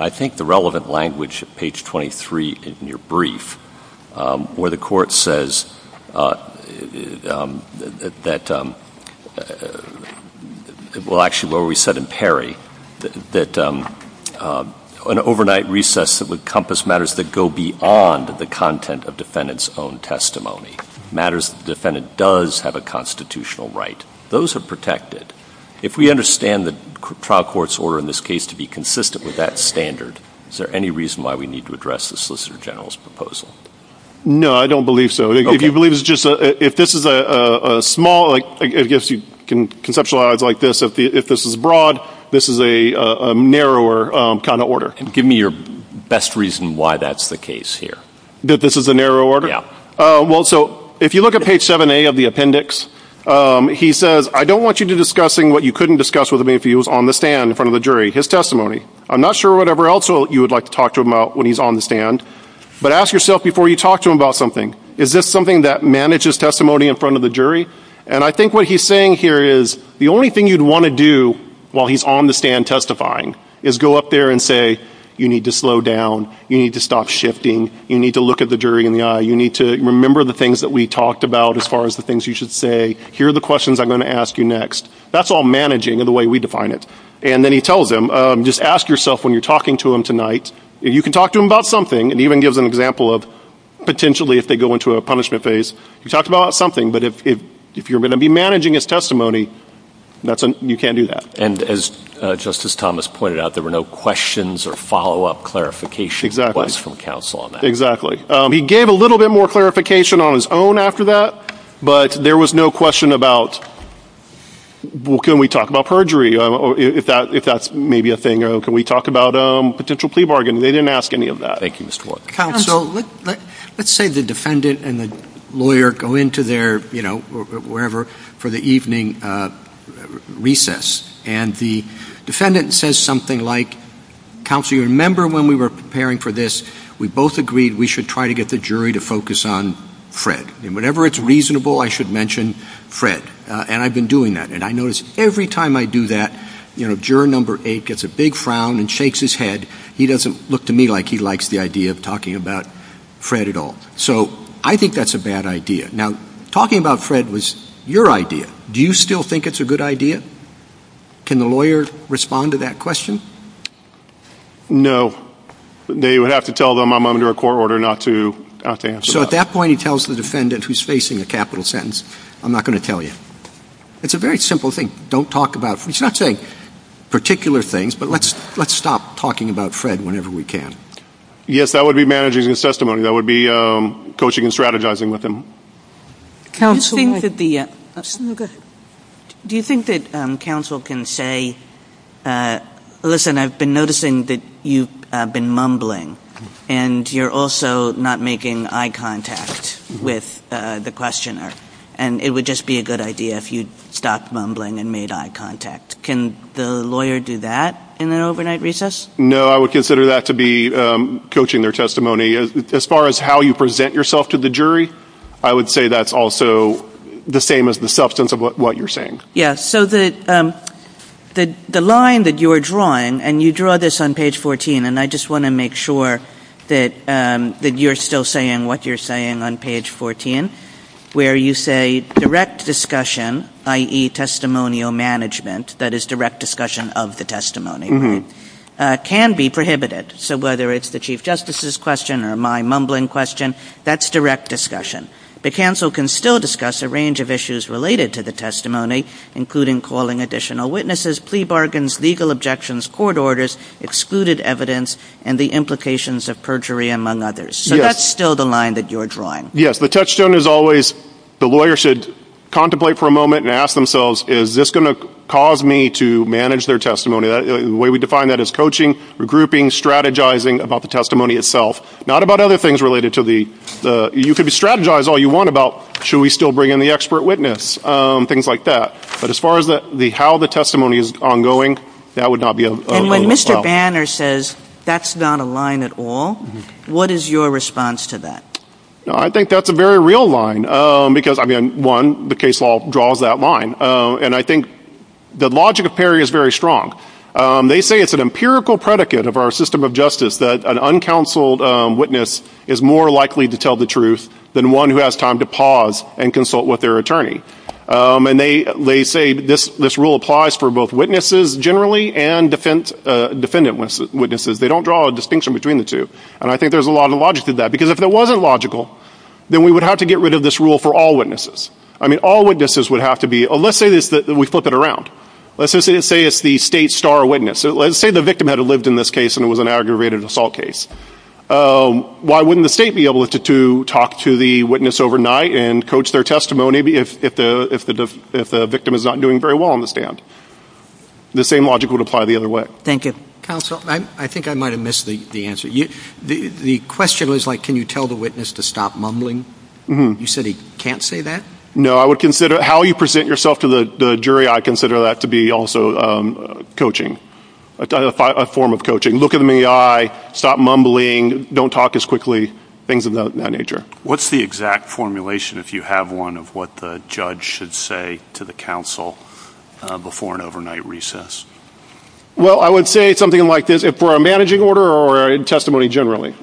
I think, the relevant language, page 23 in your brief, where the Court says that, well, actually, where we said in Perry, that an overnight recess would encompass matters that go beyond the content of defendant's own testimony, matters that the defendant does have a constitutional right. Those are protected. If we understand the trial court's order in this case to be consistent with that standard, is there any reason why we need to address the Solicitor General's proposal? No, I don't believe so. Okay. If you believe it's just a – if this is a small – I guess you can conceptualize it like this. If this is broad, this is a narrower kind of order. Give me your best reason why that's the case here. That this is a narrow order? Yeah. Well, so if you look at page 7A of the appendix, he says, I don't want you discussing what you couldn't discuss with him if he was on the stand in front of the jury, his testimony. I'm not sure whatever else you would like to talk to him about when he's on the stand. But ask yourself before you talk to him about something, is this something that manages testimony in front of the jury? And I think what he's saying here is the only thing you'd want to do while he's on the stand testifying is go up there and say, you need to slow down, you need to stop shifting, you need to look at the jury in the eye, you need to remember the things that we talked about as far as the things you should say, here are the questions I'm going to ask you next. That's all managing in the way we define it. And then he tells them, just ask yourself when you're talking to him tonight, you can talk to him about something and even give them an example of potentially if they go into a punishment phase, you talked about something, but if you're going to be managing his testimony, you can't do that. And as Justice Thomas pointed out, there were no questions or follow-up clarification from counsel on that. Exactly. He gave a little bit more clarification on his own after that, but there was no question about, well, can we talk about perjury? If that's maybe a thing, can we talk about a potential plea bargain? They didn't ask any of that. Thank you, Mr. Wharton. Counsel, let's say the defendant and the lawyer go into their, you know, wherever, for the evening recess, and the defendant says something like, counsel, you remember when we were preparing for this, we both agreed we should try to get the jury to focus on Fred. And whenever it's reasonable, I should mention Fred. And I've been doing that, and I notice every time I do that, you know, juror number eight gets a big frown and shakes his head. He doesn't look to me like he likes the idea of talking about Fred at all. So I think that's a bad idea. Now, talking about Fred was your idea. Do you still think it's a good idea? Can the lawyer respond to that question? No. They would have to tell them I'm under a court order not to answer that. So at that point, he tells the defendant who's facing a capital sentence, I'm not going to tell you. It's a very simple thing. We should not say particular things, but let's stop talking about Fred whenever we can. Yes, that would be managing his testimony. That would be coaching and strategizing with him. Do you think that counsel can say, listen, I've been noticing that you've been mumbling, and you're also not making eye contact with the questioner, and it would just be a good idea if you stopped mumbling and made eye contact. Can the lawyer do that in an overnight recess? No, I would consider that to be coaching their testimony. As far as how you present yourself to the jury, I would say that's also the same as the substance of what you're saying. Yes. So the line that you are drawing, and you draw this on page 14, and I just want to make sure that you're still saying what you're saying on page 14, where you say direct discussion, i.e. testimonial management, that is direct discussion of the testimony, can be prohibited. So whether it's the Chief Justice's question or my mumbling question, that's direct discussion. The counsel can still discuss a range of issues related to the testimony, including calling additional witnesses, plea bargains, legal objections, court orders, excluded evidence, and the implications of perjury, among others. So that's still the line that you're drawing. Yes. The touchstone is always the lawyer should contemplate for a moment and ask themselves, is this going to cause me to manage their testimony? The way we define that is coaching, regrouping, strategizing about the testimony itself, not about other things related to the – you can strategize all you want about, should we still bring in the expert witness, things like that. But as far as how the testimony is ongoing, that would not be a – And when Mr. Banner says that's not a line at all, what is your response to that? I think that's a very real line because, again, one, the case law draws that line. And I think the logic of PERI is very strong. They say it's an empirical predicate of our system of justice that an uncounseled witness is more likely to tell the truth than one who has time to pause and consult with their attorney. And they say this rule applies for both witnesses generally and defendant witnesses. They don't draw a distinction between the two. And I think there's a lot of logic to that because if it wasn't logical, then we would have to get rid of this rule for all witnesses. I mean, all witnesses would have to be – let's say we flip it around. Let's just say it's the state star witness. Let's say the victim had lived in this case and it was an aggravated assault case. Why wouldn't the state be able to talk to the witness overnight and coach their testimony if the victim is not doing very well on the stand? The same logic would apply the other way. Thank you, counsel. I think I might have missed the answer. The question was, like, can you tell the witness to stop mumbling? You said he can't say that? No, I would consider how you present yourself to the jury, I consider that to be also coaching, a form of coaching. Look in the eye, stop mumbling, don't talk as quickly, things of that nature. What's the exact formulation, if you have one, of what the judge should say to the counsel before an overnight recess? Well, I would say something like this. If we're a managing order or a testimony generally,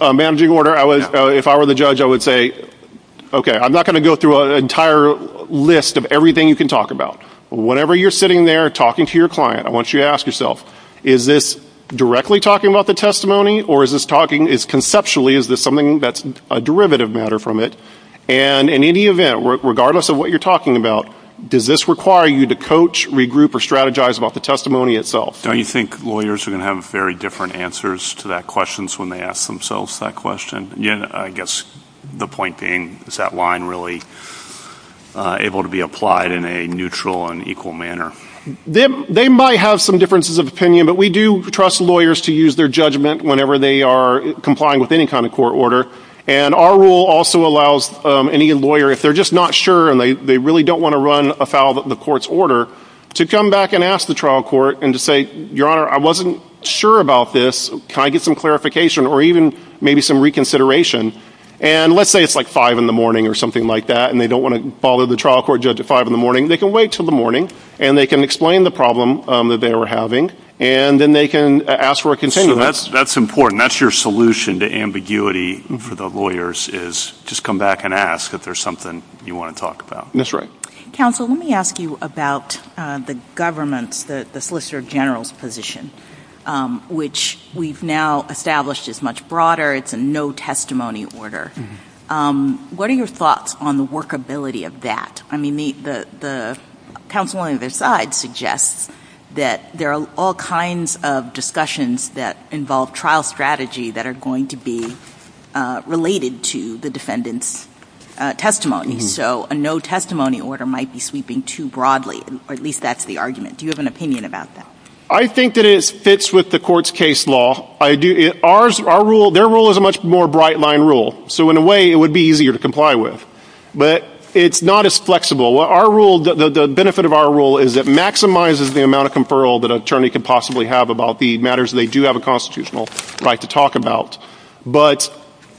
a managing order, if I were the judge, I would say, okay, I'm not going to go through an entire list of everything you can talk about. Whenever you're sitting there talking to your client, I want you to ask yourself, is this directly talking about the testimony or is this talking – conceptually, is this something that's a derivative matter from it? And in any event, regardless of what you're talking about, does this require you to coach, regroup, or strategize about the testimony itself? Don't you think lawyers are going to have very different answers to that question when they ask themselves that question? Yeah. I guess the point being, is that line really able to be applied in a neutral and equal manner? They might have some differences of opinion, but we do trust lawyers to use their judgment whenever they are complying with any kind of court order. And our rule also allows any lawyer, if they're just not sure and they really don't want to run afoul of the court's order, to come back and ask the trial court and to say, Your Honor, I wasn't sure about this. Can I get some clarification or even maybe some reconsideration? And let's say it's like 5 in the morning or something like that and they don't want to bother the trial court judge at 5 in the morning. They can wait till the morning and they can explain the problem that they were having and then they can ask for a continuum. That's important. That's your solution to ambiguity for the lawyers is just come back and ask if there's something you want to talk about. That's right. Counsel, let me ask you about the government's, the Solicitor General's position, which we've now established is much broader. It's a no testimony order. What are your thoughts on the workability of that? I mean, the counsel on either side suggests that there are all kinds of discussions that involve trial strategy that are going to be related to the defendant's testimony. So a no testimony order might be sweeping too broadly, or at least that's the argument. Do you have an opinion about that? I think that it fits with the court's case law. Their rule is a much more bright line rule, so in a way it would be easier to comply with. But it's not as flexible. The benefit of our rule is it maximizes the amount of conferral that an attorney can possibly have about the matters they do have a constitutional right to talk about. But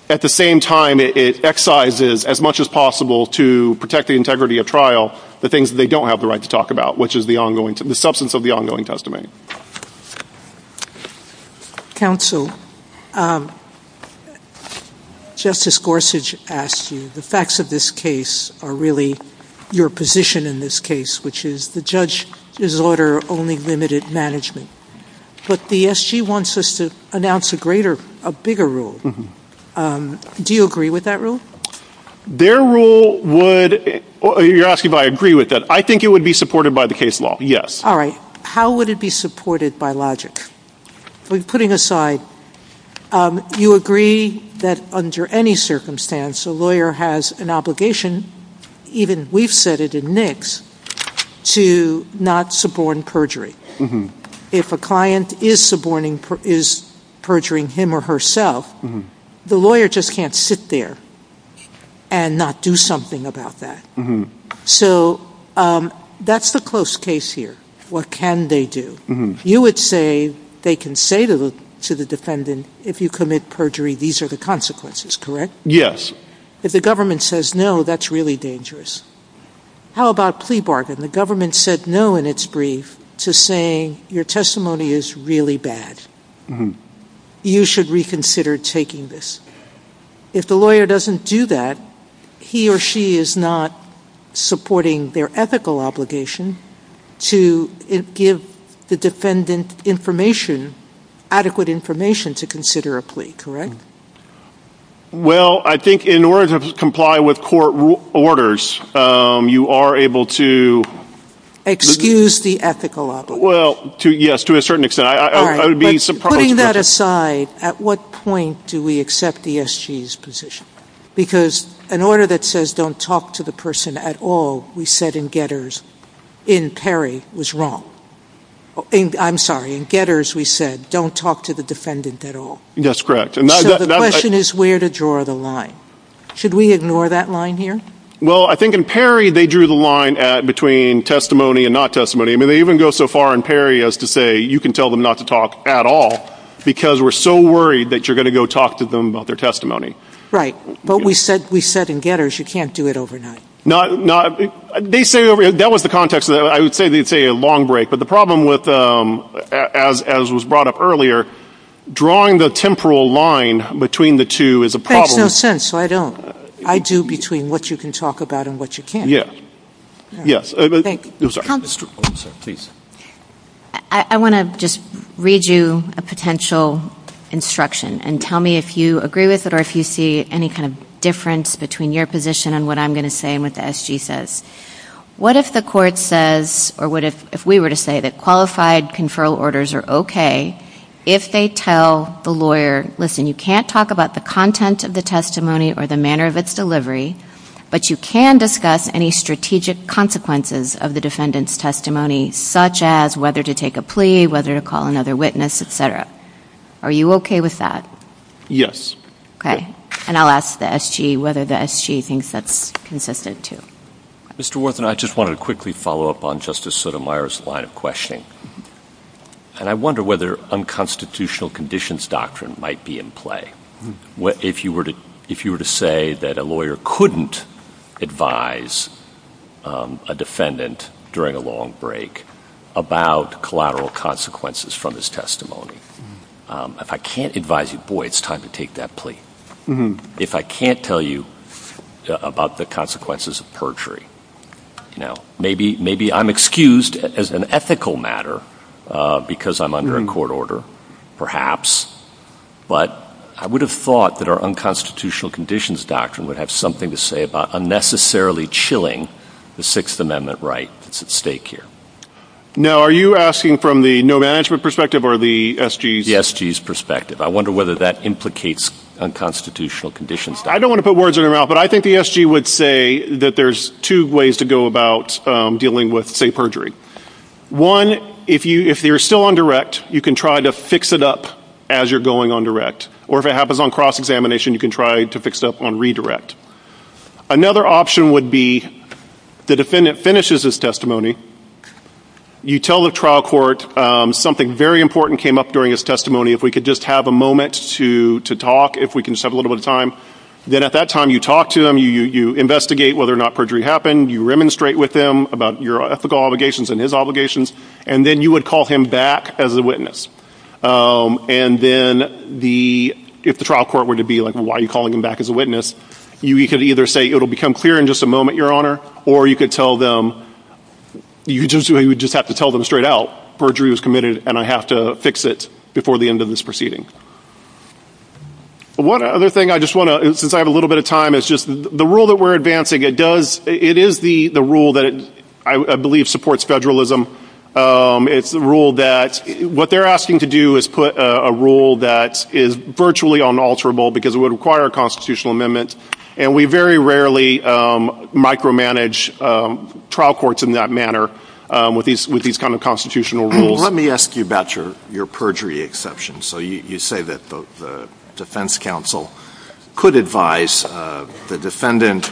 at the same time, it excises as much as possible to protect the integrity of trial the things that they don't have the right to talk about, which is the substance of the ongoing testimony. Counsel, Justice Gorsuch asked you, the facts of this case are really your position in this case, which is the judge's order only limited management. But the SG wants us to announce a greater, a bigger rule. Do you agree with that rule? Their rule would, you're asking if I agree with that. I think it would be supported by the case law, yes. All right. How would it be supported by logic? Putting aside, you agree that under any circumstance a lawyer has an obligation, even we've said it in NICS, to not suborn perjury. If a client is suborning, is perjuring him or herself, the lawyer just can't sit there and not do something about that. So that's the close case here. What can they do? You would say they can say to the defendant, if you commit perjury, these are the consequences, correct? Yes. If the government says no, that's really dangerous. How about plea bargain? The government said no in its brief to saying your testimony is really bad. You should reconsider taking this. If the lawyer doesn't do that, he or she is not supporting their ethical obligation to give the defendant information, adequate information to consider a plea, correct? Well, I think in order to comply with court orders, you are able to... Excuse the ethical obligation. Well, yes, to a certain extent. Putting that aside, at what point do we accept the SG's position? Because an order that says don't talk to the person at all, we said in Getters, in Perry, was wrong. I'm sorry, in Getters we said don't talk to the defendant at all. That's correct. So the question is where to draw the line. Should we ignore that line here? Well, I think in Perry they drew the line between testimony and not testimony. I mean, they even go so far in Perry as to say you can tell them not to talk at all because we're so worried that you're going to go talk to them about their testimony. Right, but we said in Getters you can't do it overnight. That was the context. I would say it's a long break. But the problem with, as was brought up earlier, drawing the temporal line between the two is a problem. There's no sense, so I don't. I do between what you can talk about and what you can't. Yes. Thank you. I want to just read you a potential instruction and tell me if you agree with it or if you see any kind of difference between your position and what I'm going to say and what the SG says. What if the court says, or what if we were to say that qualified conferral orders are okay if they tell the lawyer, listen, you can't talk about the content of the testimony or the manner of its delivery, but you can discuss any strategic consequences of the defendant's testimony, such as whether to take a plea, whether to call another witness, etc. Are you okay with that? Yes. Okay. And I'll ask the SG whether the SG thinks that's consistent, too. Mr. Worthen, I just wanted to quickly follow up on Justice Sotomayor's line of questioning. And I wonder whether unconstitutional conditions doctrine might be in play. If you were to say that a lawyer couldn't advise a defendant during a long break about collateral consequences from his testimony, if I can't advise you, boy, it's time to take that plea. If I can't tell you about the consequences of perjury. Now, maybe I'm excused as an ethical matter because I'm under a court order, perhaps. But I would have thought that our unconstitutional conditions doctrine would have something to say about unnecessarily chilling the Sixth Amendment right at stake here. Now, are you asking from the no management perspective or the SG's perspective? The SG's perspective. I wonder whether that implicates unconstitutional conditions. I don't want to put words in your mouth, but I think the SG would say that there's two ways to go about dealing with, say, perjury. One, if you're still on direct, you can try to fix it up as you're going on direct. Or if it happens on cross-examination, you can try to fix it up on redirect. Another option would be the defendant finishes his testimony. You tell the trial court something very important came up during his testimony. If we could just have a moment to talk, if we can just have a little bit of time. Then at that time, you talk to him. You investigate whether or not perjury happened. You remonstrate with him about your ethical obligations and his obligations. And then you would call him back as a witness. And then if the trial court were to be like, why are you calling him back as a witness? You could either say, it will become clear in just a moment, your honor. Or you could tell them, you just have to tell them straight out, perjury was committed and I have to fix it before the end of this proceeding. One other thing I just want to, since I have a little bit of time, is just the rule that we're advancing. It is the rule that I believe supports federalism. It's the rule that, what they're asking to do is put a rule that is virtually unalterable because it would require a constitutional amendment. And we very rarely micromanage trial courts in that manner with these kind of constitutional rules. Let me ask you about your perjury exception. So you say that the defense counsel could advise the defendant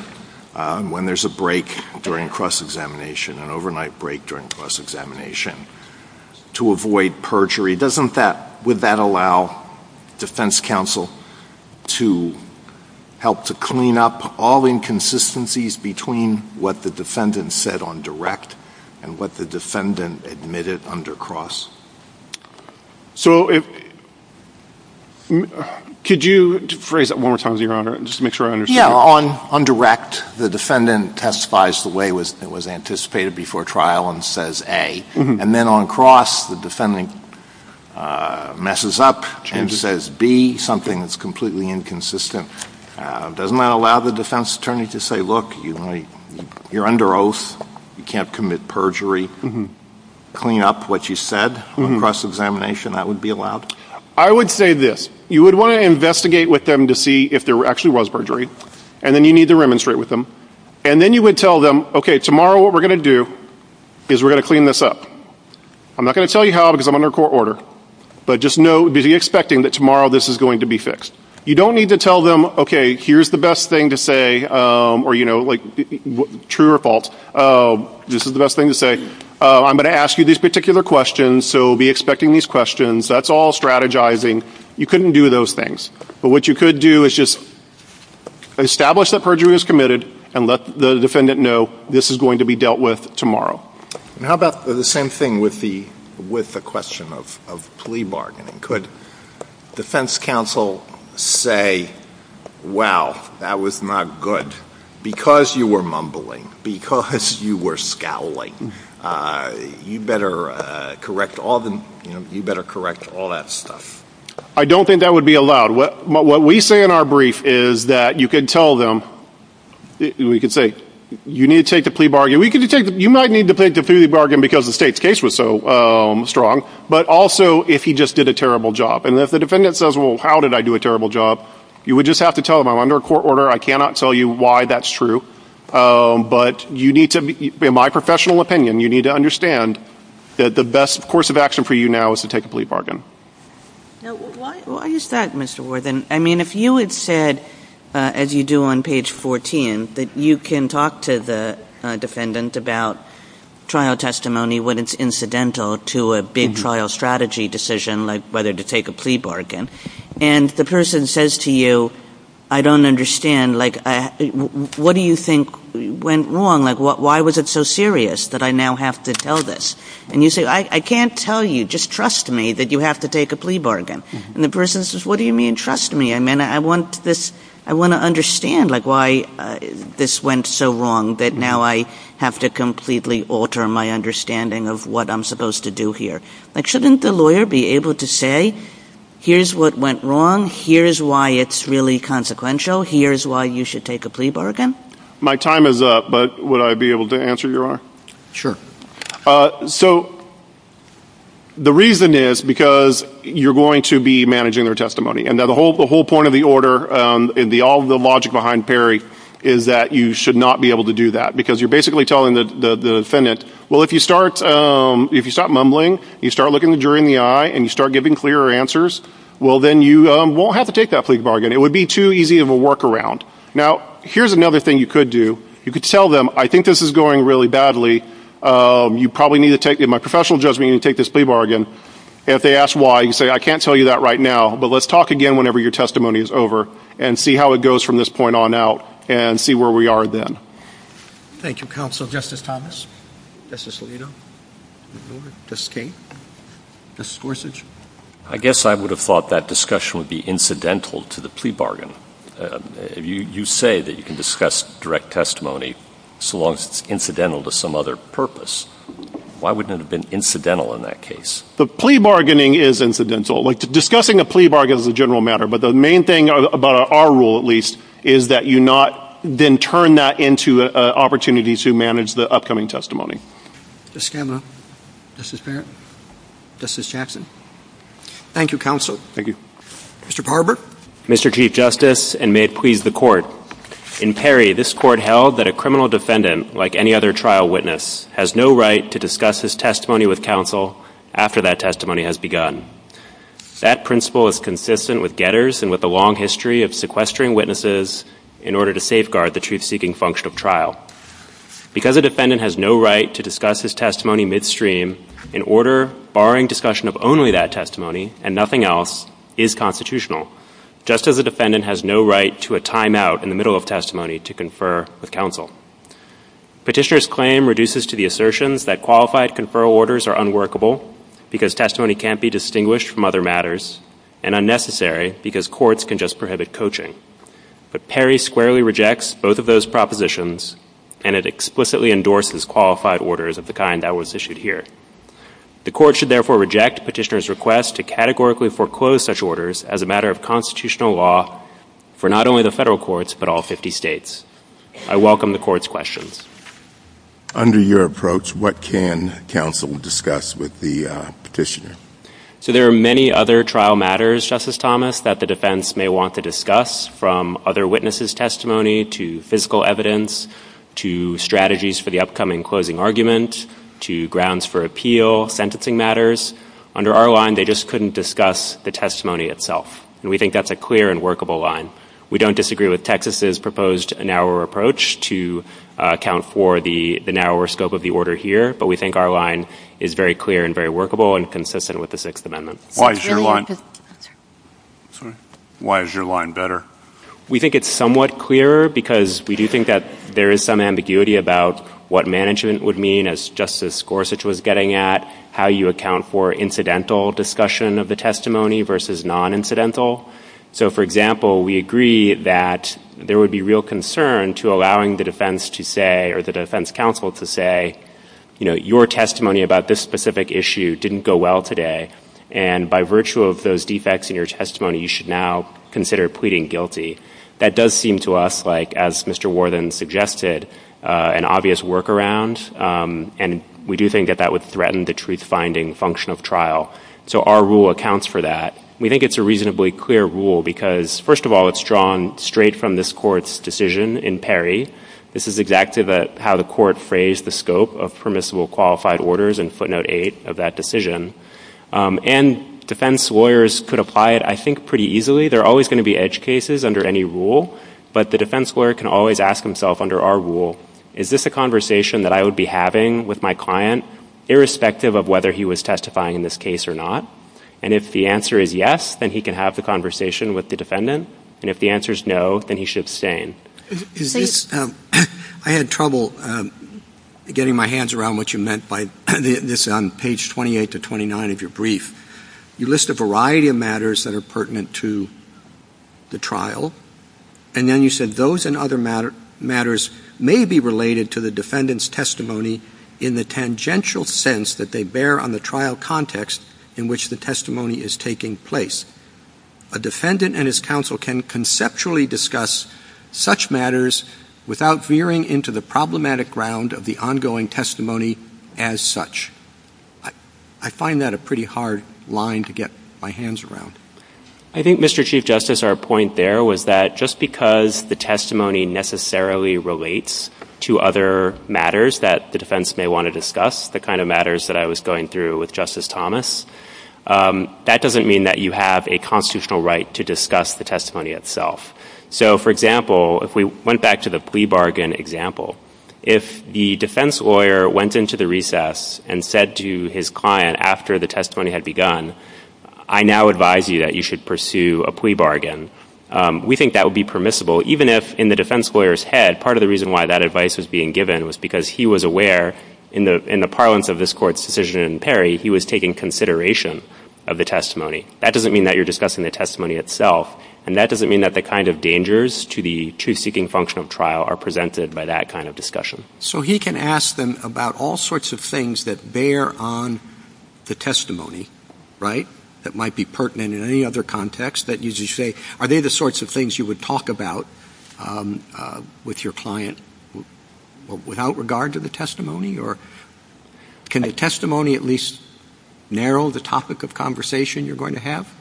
when there's a break during cross-examination, an overnight break during cross-examination, to avoid perjury. Doesn't that, would that allow defense counsel to help to clean up all inconsistencies between what the defendant said on direct and what the defendant admitted under cross? So, could you phrase that one more time, your honor, just to make sure I understand. Yeah, on direct, the defendant testifies the way it was anticipated before trial and says A. And then on cross, the defendant messes up and says B, something that's completely inconsistent. Doesn't that allow the defense attorney to say, look, you're under oath, you can't commit perjury, clean up what you said on cross-examination, that would be allowed? I would say this, you would want to investigate with them to see if there actually was perjury, and then you need to remonstrate with them. And then you would tell them, okay, tomorrow what we're going to do is we're going to clean this up. I'm not going to tell you how because I'm under court order, but just know, be expecting that tomorrow this is going to be fixed. You don't need to tell them, okay, here's the best thing to say, or, you know, true or false, this is the best thing to say. I'm going to ask you these particular questions, so be expecting these questions. That's all strategizing. You couldn't do those things. But what you could do is just establish that perjury was committed and let the defendant know this is going to be dealt with tomorrow. How about the same thing with the question of plea bargaining? Could defense counsel say, wow, that was not good because you were mumbling, because you were scowling? You better correct all that stuff. I don't think that would be allowed. What we say in our brief is that you could tell them, we could say, you need to take the plea bargain. You might need to take the plea bargain because the state's case was so strong, but also if he just did a terrible job. And if the defendant says, well, how did I do a terrible job, you would just have to tell them I'm under court order. I cannot tell you why that's true. But you need to, in my professional opinion, you need to understand that the best course of action for you now is to take a plea bargain. Now, why is that, Mr. Worthen? I mean, if you had said, as you do on page 14, that you can talk to the defendant about trial testimony when it's incidental to a big trial strategy decision, like whether to take a plea bargain, and the person says to you, I don't understand, like, what do you think went wrong? Like, why was it so serious that I now have to tell this? And you say, I can't tell you, just trust me that you have to take a plea bargain. And the person says, what do you mean, trust me? I mean, I want to understand, like, why this went so wrong that now I have to completely alter my understanding of what I'm supposed to do here. Like, shouldn't the lawyer be able to say, here's what went wrong, here's why it's really consequential, here's why you should take a plea bargain? My time is up, but would I be able to answer your question? Sure. So the reason is because you're going to be managing their testimony. And the whole point of the order and all the logic behind Perry is that you should not be able to do that, because you're basically telling the defendant, well, if you start mumbling, you start looking the jury in the eye and you start giving clearer answers, well, then you won't have to take that plea bargain. It would be too easy of a workaround. Now, here's another thing you could do. You could tell them, I think this is going really badly. You probably need to take, in my professional judgment, you need to take this plea bargain. And if they ask why, you can say, I can't tell you that right now, but let's talk again whenever your testimony is over and see how it goes from this point on out and see where we are then. Thank you, Counsel. Justice Thomas? Justice Alito? Justice Kagan? Justice Gorsuch? I guess I would have thought that discussion would be incidental to the plea bargain. You say that you can discuss direct testimony so long as it's incidental to some other purpose. Why wouldn't it have been incidental in that case? The plea bargaining is incidental. Discussing a plea bargain is a general matter, but the main thing about our rule, at least, is that you not then turn that into an opportunity to manage the upcoming testimony. Justice Scanlon? Justice Barrett? Justice Jackson? Thank you, Counsel. Thank you. Mr. Barber? Mr. Chief Justice, and may it please the Court, in Perry, this Court held that a criminal defendant, like any other trial witness, has no right to discuss his testimony with counsel after that testimony has begun. That principle is consistent with Getters and with a long history of sequestering witnesses in order to safeguard the truth-seeking function of trial. Because a defendant has no right to discuss his testimony midstream, in order, barring discussion of only that testimony and nothing else, is constitutional, just as a defendant has no right to a timeout in the middle of testimony to confer with counsel. Petitioner's claim reduces to the assertions that qualified conferral orders are unworkable because testimony can't be distinguished from other matters and unnecessary because courts can just prohibit coaching. But Perry squarely rejects both of those propositions, and it explicitly endorses qualified orders of the kind that was issued here. The Court should therefore reject petitioner's request to categorically foreclose such orders as a matter of constitutional law for not only the federal courts but all 50 states. I welcome the Court's questions. Under your approach, what can counsel discuss with the petitioner? So there are many other trial matters, Justice Thomas, that the defense may want to discuss from other witnesses' testimony to physical evidence to strategies for the upcoming closing argument to grounds for appeal, sentencing matters. Under our line, they just couldn't discuss the testimony itself, and we think that's a clear and workable line. We don't disagree with Texas's proposed narrower approach to account for the narrower scope of the order here, but we think our line is very clear and very workable and consistent with the Sixth Amendment. Why is your line better? We think it's somewhat clearer because we do think that there is some ambiguity about what management would mean, as Justice Gorsuch was getting at, how you account for incidental discussion of the testimony versus non-incidental. So, for example, we agree that there would be real concern to allowing the defense to say your testimony about this specific issue didn't go well today, and by virtue of those defects in your testimony, you should now consider pleading guilty. That does seem to us, as Mr. Worthen suggested, an obvious workaround, and we do think that that would threaten the truth-finding function of trial. So our rule accounts for that. We think it's a reasonably clear rule because, first of all, it's drawn straight from this Court's decision in Perry. This is exactly how the Court phrased the scope of permissible qualified orders in footnote 8 of that decision. And defense lawyers could apply it, I think, pretty easily. There are always going to be edge cases under any rule, but the defense lawyer can always ask himself under our rule, is this a conversation that I would be having with my client, irrespective of whether he was testifying in this case or not? And if the answer is yes, then he can have the conversation with the defendant, and if the answer is no, then he should abstain. I had trouble getting my hands around what you meant by this on page 28 to 29 of your brief. You list a variety of matters that are pertinent to the trial, and then you said those and other matters may be related to the defendant's testimony in the tangential sense that they bear on the trial context in which the testimony is taking place. A defendant and his counsel can conceptually discuss such matters without veering into the problematic ground of the ongoing testimony as such. I find that a pretty hard line to get my hands around. I think, Mr. Chief Justice, our point there was that just because the testimony necessarily relates to other matters that the defense may want to discuss, the kind of matters that I was going through with Justice Thomas, that doesn't mean that you have a constitutional right to discuss the testimony itself. So, for example, if we went back to the plea bargain example, if the defense lawyer went into the recess and said to his client after the testimony had begun, I now advise you that you should pursue a plea bargain. We think that would be permissible, even if in the defense lawyer's head, part of the reason why that advice was being given was because he was aware, in the parlance of this Court's decision in Perry, he was taking consideration of the testimony. That doesn't mean that you're discussing the testimony itself, and that doesn't mean that the kind of dangers to the truth-seeking function of trial are presented by that kind of discussion. So he can ask them about all sorts of things that bear on the testimony, right, that might be pertinent in any other context, that usually say, Are they the sorts of things you would talk about with your client without regard to the testimony, or can the testimony at least narrow the topic of conversation you're going to have?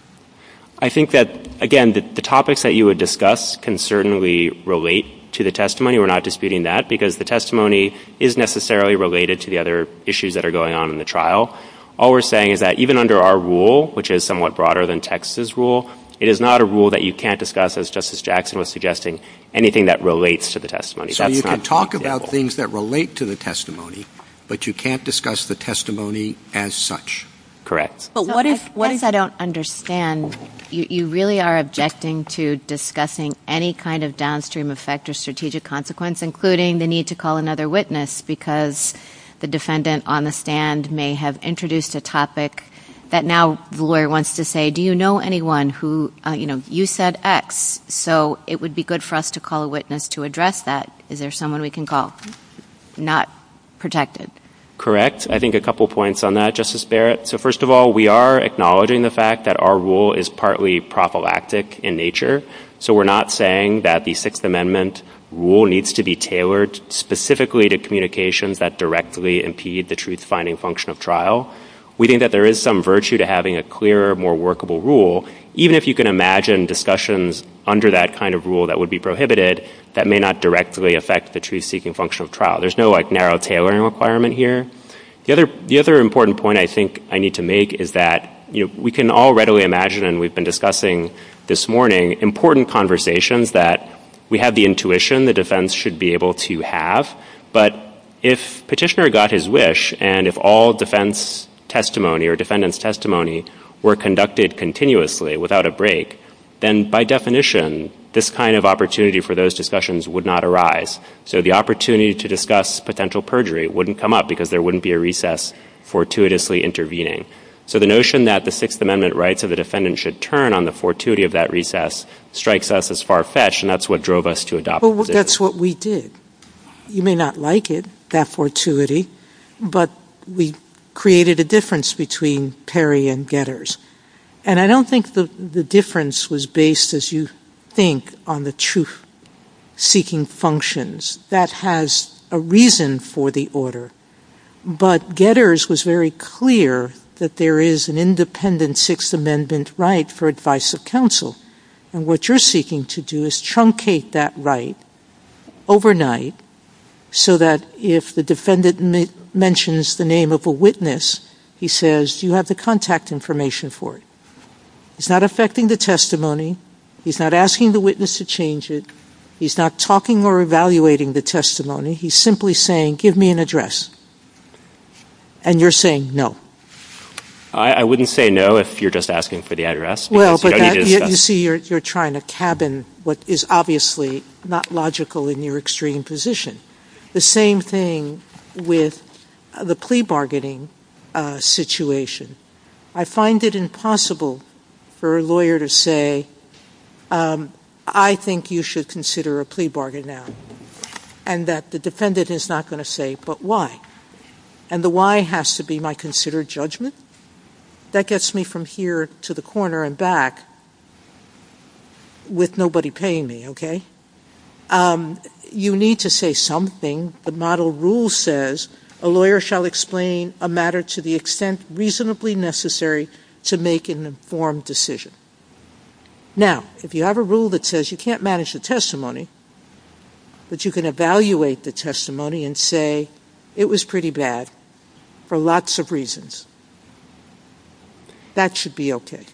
I think that, again, the topics that you would discuss can certainly relate to the testimony. We're not disputing that because the testimony is necessarily related to the other issues that are going on in the trial. All we're saying is that even under our rule, which is somewhat broader than text as rule, it is not a rule that you can't discuss, as Justice Jackson was suggesting, anything that relates to the testimony. So you can talk about things that relate to the testimony, but you can't discuss the testimony as such. Correct. But what if I don't understand? You really are objecting to discussing any kind of downstream effect or strategic consequence, including the need to call another witness because the defendant on the stand may have introduced a topic that now the lawyer wants to say, Do you know anyone who, you know, you said X, so it would be good for us to call a witness to address that. Is there someone we can call? Not protected. Correct. I think a couple points on that, Justice Barrett. So first of all, we are acknowledging the fact that our rule is partly prophylactic in nature, so we're not saying that the Sixth Amendment rule needs to be tailored specifically to communications that directly impede the truth-finding function of trial. We think that there is some virtue to having a clearer, more workable rule, even if you can imagine discussions under that kind of rule that would be prohibited that may not directly affect the truth-seeking function of trial. There's no, like, narrow tailoring requirement here. The other important point I think I need to make is that, you know, we can all readily imagine, and we've been discussing this morning, important conversations that we have the intuition the defense should be able to have, but if Petitioner got his wish and if all defense testimony or defendant's testimony were conducted continuously without a break, then by definition this kind of opportunity for those discussions would not arise. So the opportunity to discuss potential perjury wouldn't come up because there wouldn't be a recess fortuitously intervening. So the notion that the Sixth Amendment rights of the defendant should turn on the fortuity of that recess strikes us as far-fetched, and that's what drove us to adopt it. Well, that's what we did. You may not like it, that fortuity, but we created a difference between Perry and Getters. And I don't think the difference was based, as you think, on the truth-seeking functions. That has a reason for the order. But Getters was very clear that there is an independent Sixth Amendment right for advice of counsel, and what you're seeking to do is truncate that right overnight so that if the defendant mentions the name of a witness, he says, do you have the contact information for it? He's not affecting the testimony. He's not asking the witness to change it. He's not talking or evaluating the testimony. He's simply saying, give me an address, and you're saying no. I wouldn't say no if you're just asking for the address. Well, but you see you're trying to cabin what is obviously not logical in your extreme position. The same thing with the plea bargaining situation. I find it impossible for a lawyer to say, I think you should consider a plea bargain now, and that the defendant is not going to say, but why? And the why has to be my considered judgment. That gets me from here to the corner and back with nobody paying me, okay? You need to say something. A model rule says, a lawyer shall explain a matter to the extent reasonably necessary to make an informed decision. Now, if you have a rule that says you can't manage the testimony, that you can evaluate the testimony and say it was pretty bad for lots of reasons, that should be okay.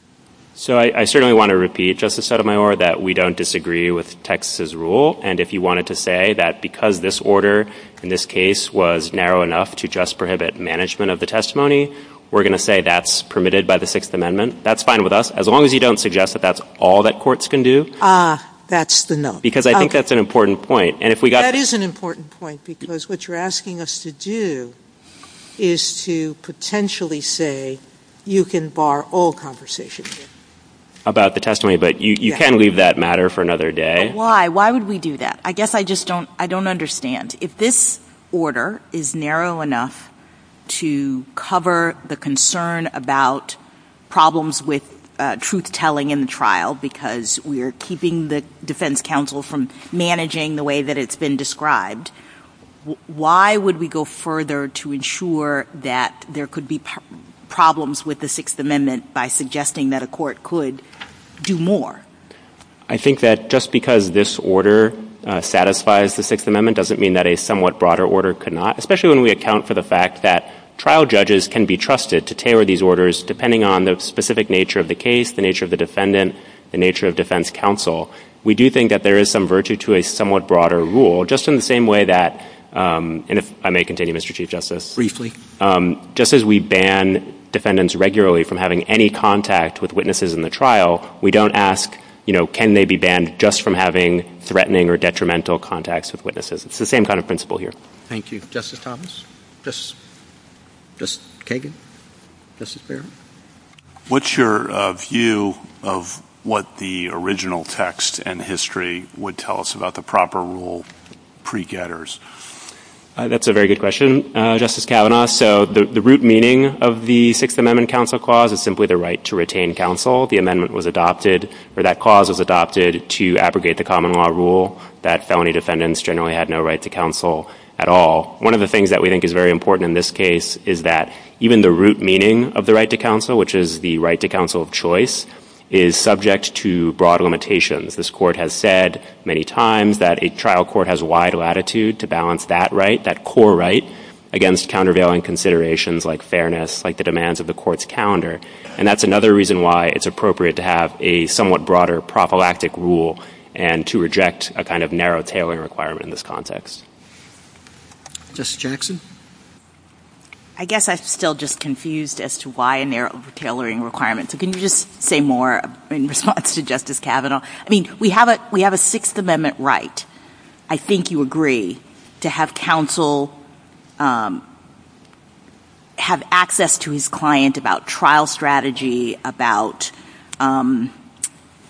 So I certainly want to repeat, Justice Sotomayor, that we don't disagree with Texas's rule, and if you wanted to say that because this order in this case was narrow enough to just prohibit management of the testimony, we're going to say that's permitted by the Sixth Amendment, that's fine with us, as long as you don't suggest that that's all that courts can do. That's the note. Because I think that's an important point. That is an important point, because what you're asking us to do is to potentially say you can bar all conversation. About the testimony, but you can leave that matter for another day. Why? Why would we do that? I guess I just don't understand. If this order is narrow enough to cover the concern about problems with truth-telling in the trial, because we are keeping the defense counsel from managing the way that it's been described, why would we go further to ensure that there could be problems with the Sixth Amendment by suggesting that a court could do more? I think that just because this order satisfies the Sixth Amendment doesn't mean that a somewhat broader order could not, especially when we account for the fact that trial judges can be trusted to tailor these orders, depending on the specific nature of the case, the nature of the defendant, the nature of defense counsel. We do think that there is some virtue to a somewhat broader rule, just in the same way that, and if I may continue, Mr. Chief Justice. Briefly. Just as we ban defendants regularly from having any contact with witnesses in the trial, we don't ask can they be banned just from having threatening or detrimental contacts with witnesses. It's the same kind of principle here. Thank you. Justice Thomas? Justice Kagan? Justice Barrett? What's your view of what the original text and history would tell us about the proper rule pre-getters? That's a very good question, Justice Kavanaugh. So the root meaning of the Sixth Amendment counsel clause is simply the right to retain counsel. The amendment was adopted, or that clause was adopted to abrogate the common law rule that felony defendants generally had no right to counsel at all. One of the things that we think is very important in this case is that even the root meaning of the right to counsel, which is the right to counsel of choice, is subject to broad limitations. This court has said many times that a trial court has wide latitude to balance that right, that core right against countervailing considerations like fairness, like the demands of the court's calendar, and that's another reason why it's appropriate to have a somewhat broader prophylactic rule and to reject a kind of narrow tailoring requirement in this context. Justice Jackson? I guess I'm still just confused as to why a narrow tailoring requirement. Can you just say more in response to Justice Kavanaugh? I mean, we have a Sixth Amendment right. I think you agree to have counsel have access to his client about trial strategy, about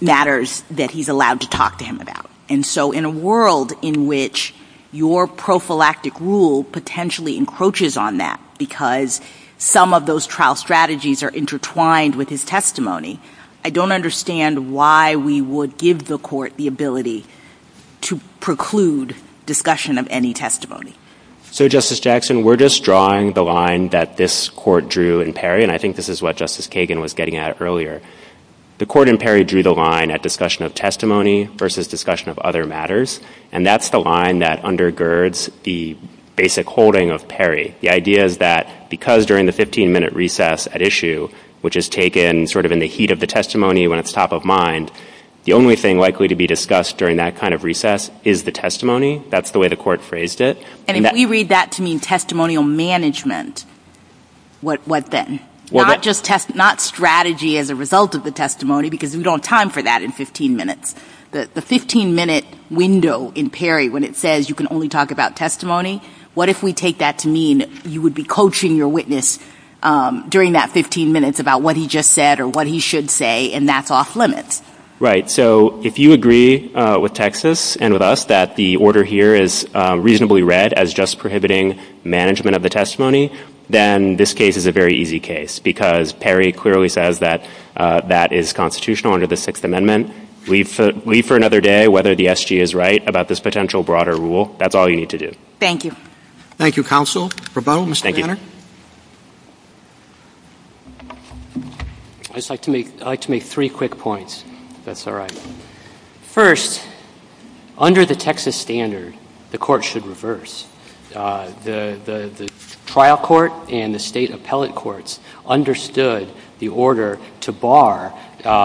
matters that he's allowed to talk to him about. And so in a world in which your prophylactic rule potentially encroaches on that because some of those trial strategies are intertwined with his testimony, I don't understand why we would give the court the ability to preclude discussion of any testimony. So, Justice Jackson, we're just drawing the line that this court drew in Perry, and I think this is what Justice Kagan was getting at earlier. The court in Perry drew the line at discussion of testimony versus discussion of other matters, and that's the line that undergirds the basic holding of Perry. The idea is that because during the 15-minute recess at issue, which is taken sort of in the heat of the testimony when it's top of mind, the only thing likely to be discussed during that kind of recess is the testimony. That's the way the court phrased it. And if we read that to mean testimonial management, what then? Not strategy as a result of the testimony because we don't time for that in 15 minutes. The 15-minute window in Perry when it says you can only talk about testimony, what if we take that to mean you would be coaching your witness during that 15 minutes about what he just said or what he should say, and that's off-limits? Right. So if you agree with Texas and with us that the order here is reasonably read as just prohibiting management of the testimony, then this case is a very easy case because Perry clearly says that that is constitutional under the Sixth Amendment. Leave for another day whether the SG is right about this potential broader rule. That's all you need to do. Thank you. Thank you, counsel. I'd just like to make three quick points, if that's all right. First, under the Texas standard, the court should reverse. The trial court and the state appellate courts understood the order to bar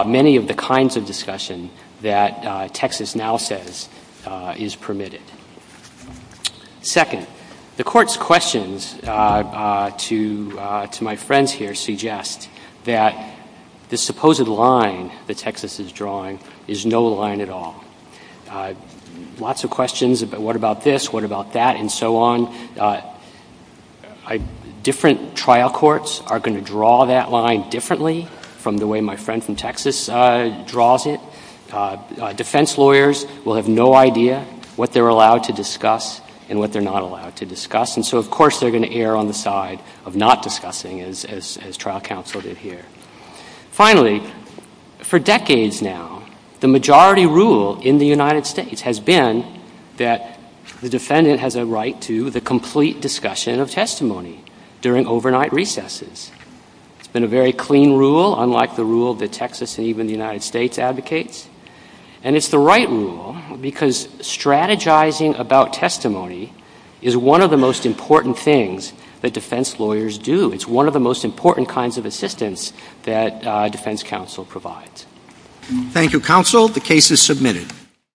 many of the kinds of discussion that Texas now says is permitted. Second, the court's questions to my friends here suggest that the supposed line that Texas is drawing is no line at all. Lots of questions about what about this, what about that, and so on. Different trial courts are going to draw that line differently from the way my friend from Texas draws it. Defense lawyers will have no idea what they're allowed to discuss and what they're not allowed to discuss. And so, of course, they're going to err on the side of not discussing as trial counsel did here. Finally, for decades now, the majority rule in the United States has been that the defendant has a right to the complete discussion of testimony during overnight recesses. It's been a very clean rule, unlike the rule that Texas and even the United States advocates. And it's the right rule because strategizing about testimony is one of the most important things that defense lawyers do. It's one of the most important kinds of assistance that defense counsel provides. Thank you, counsel. The case is submitted.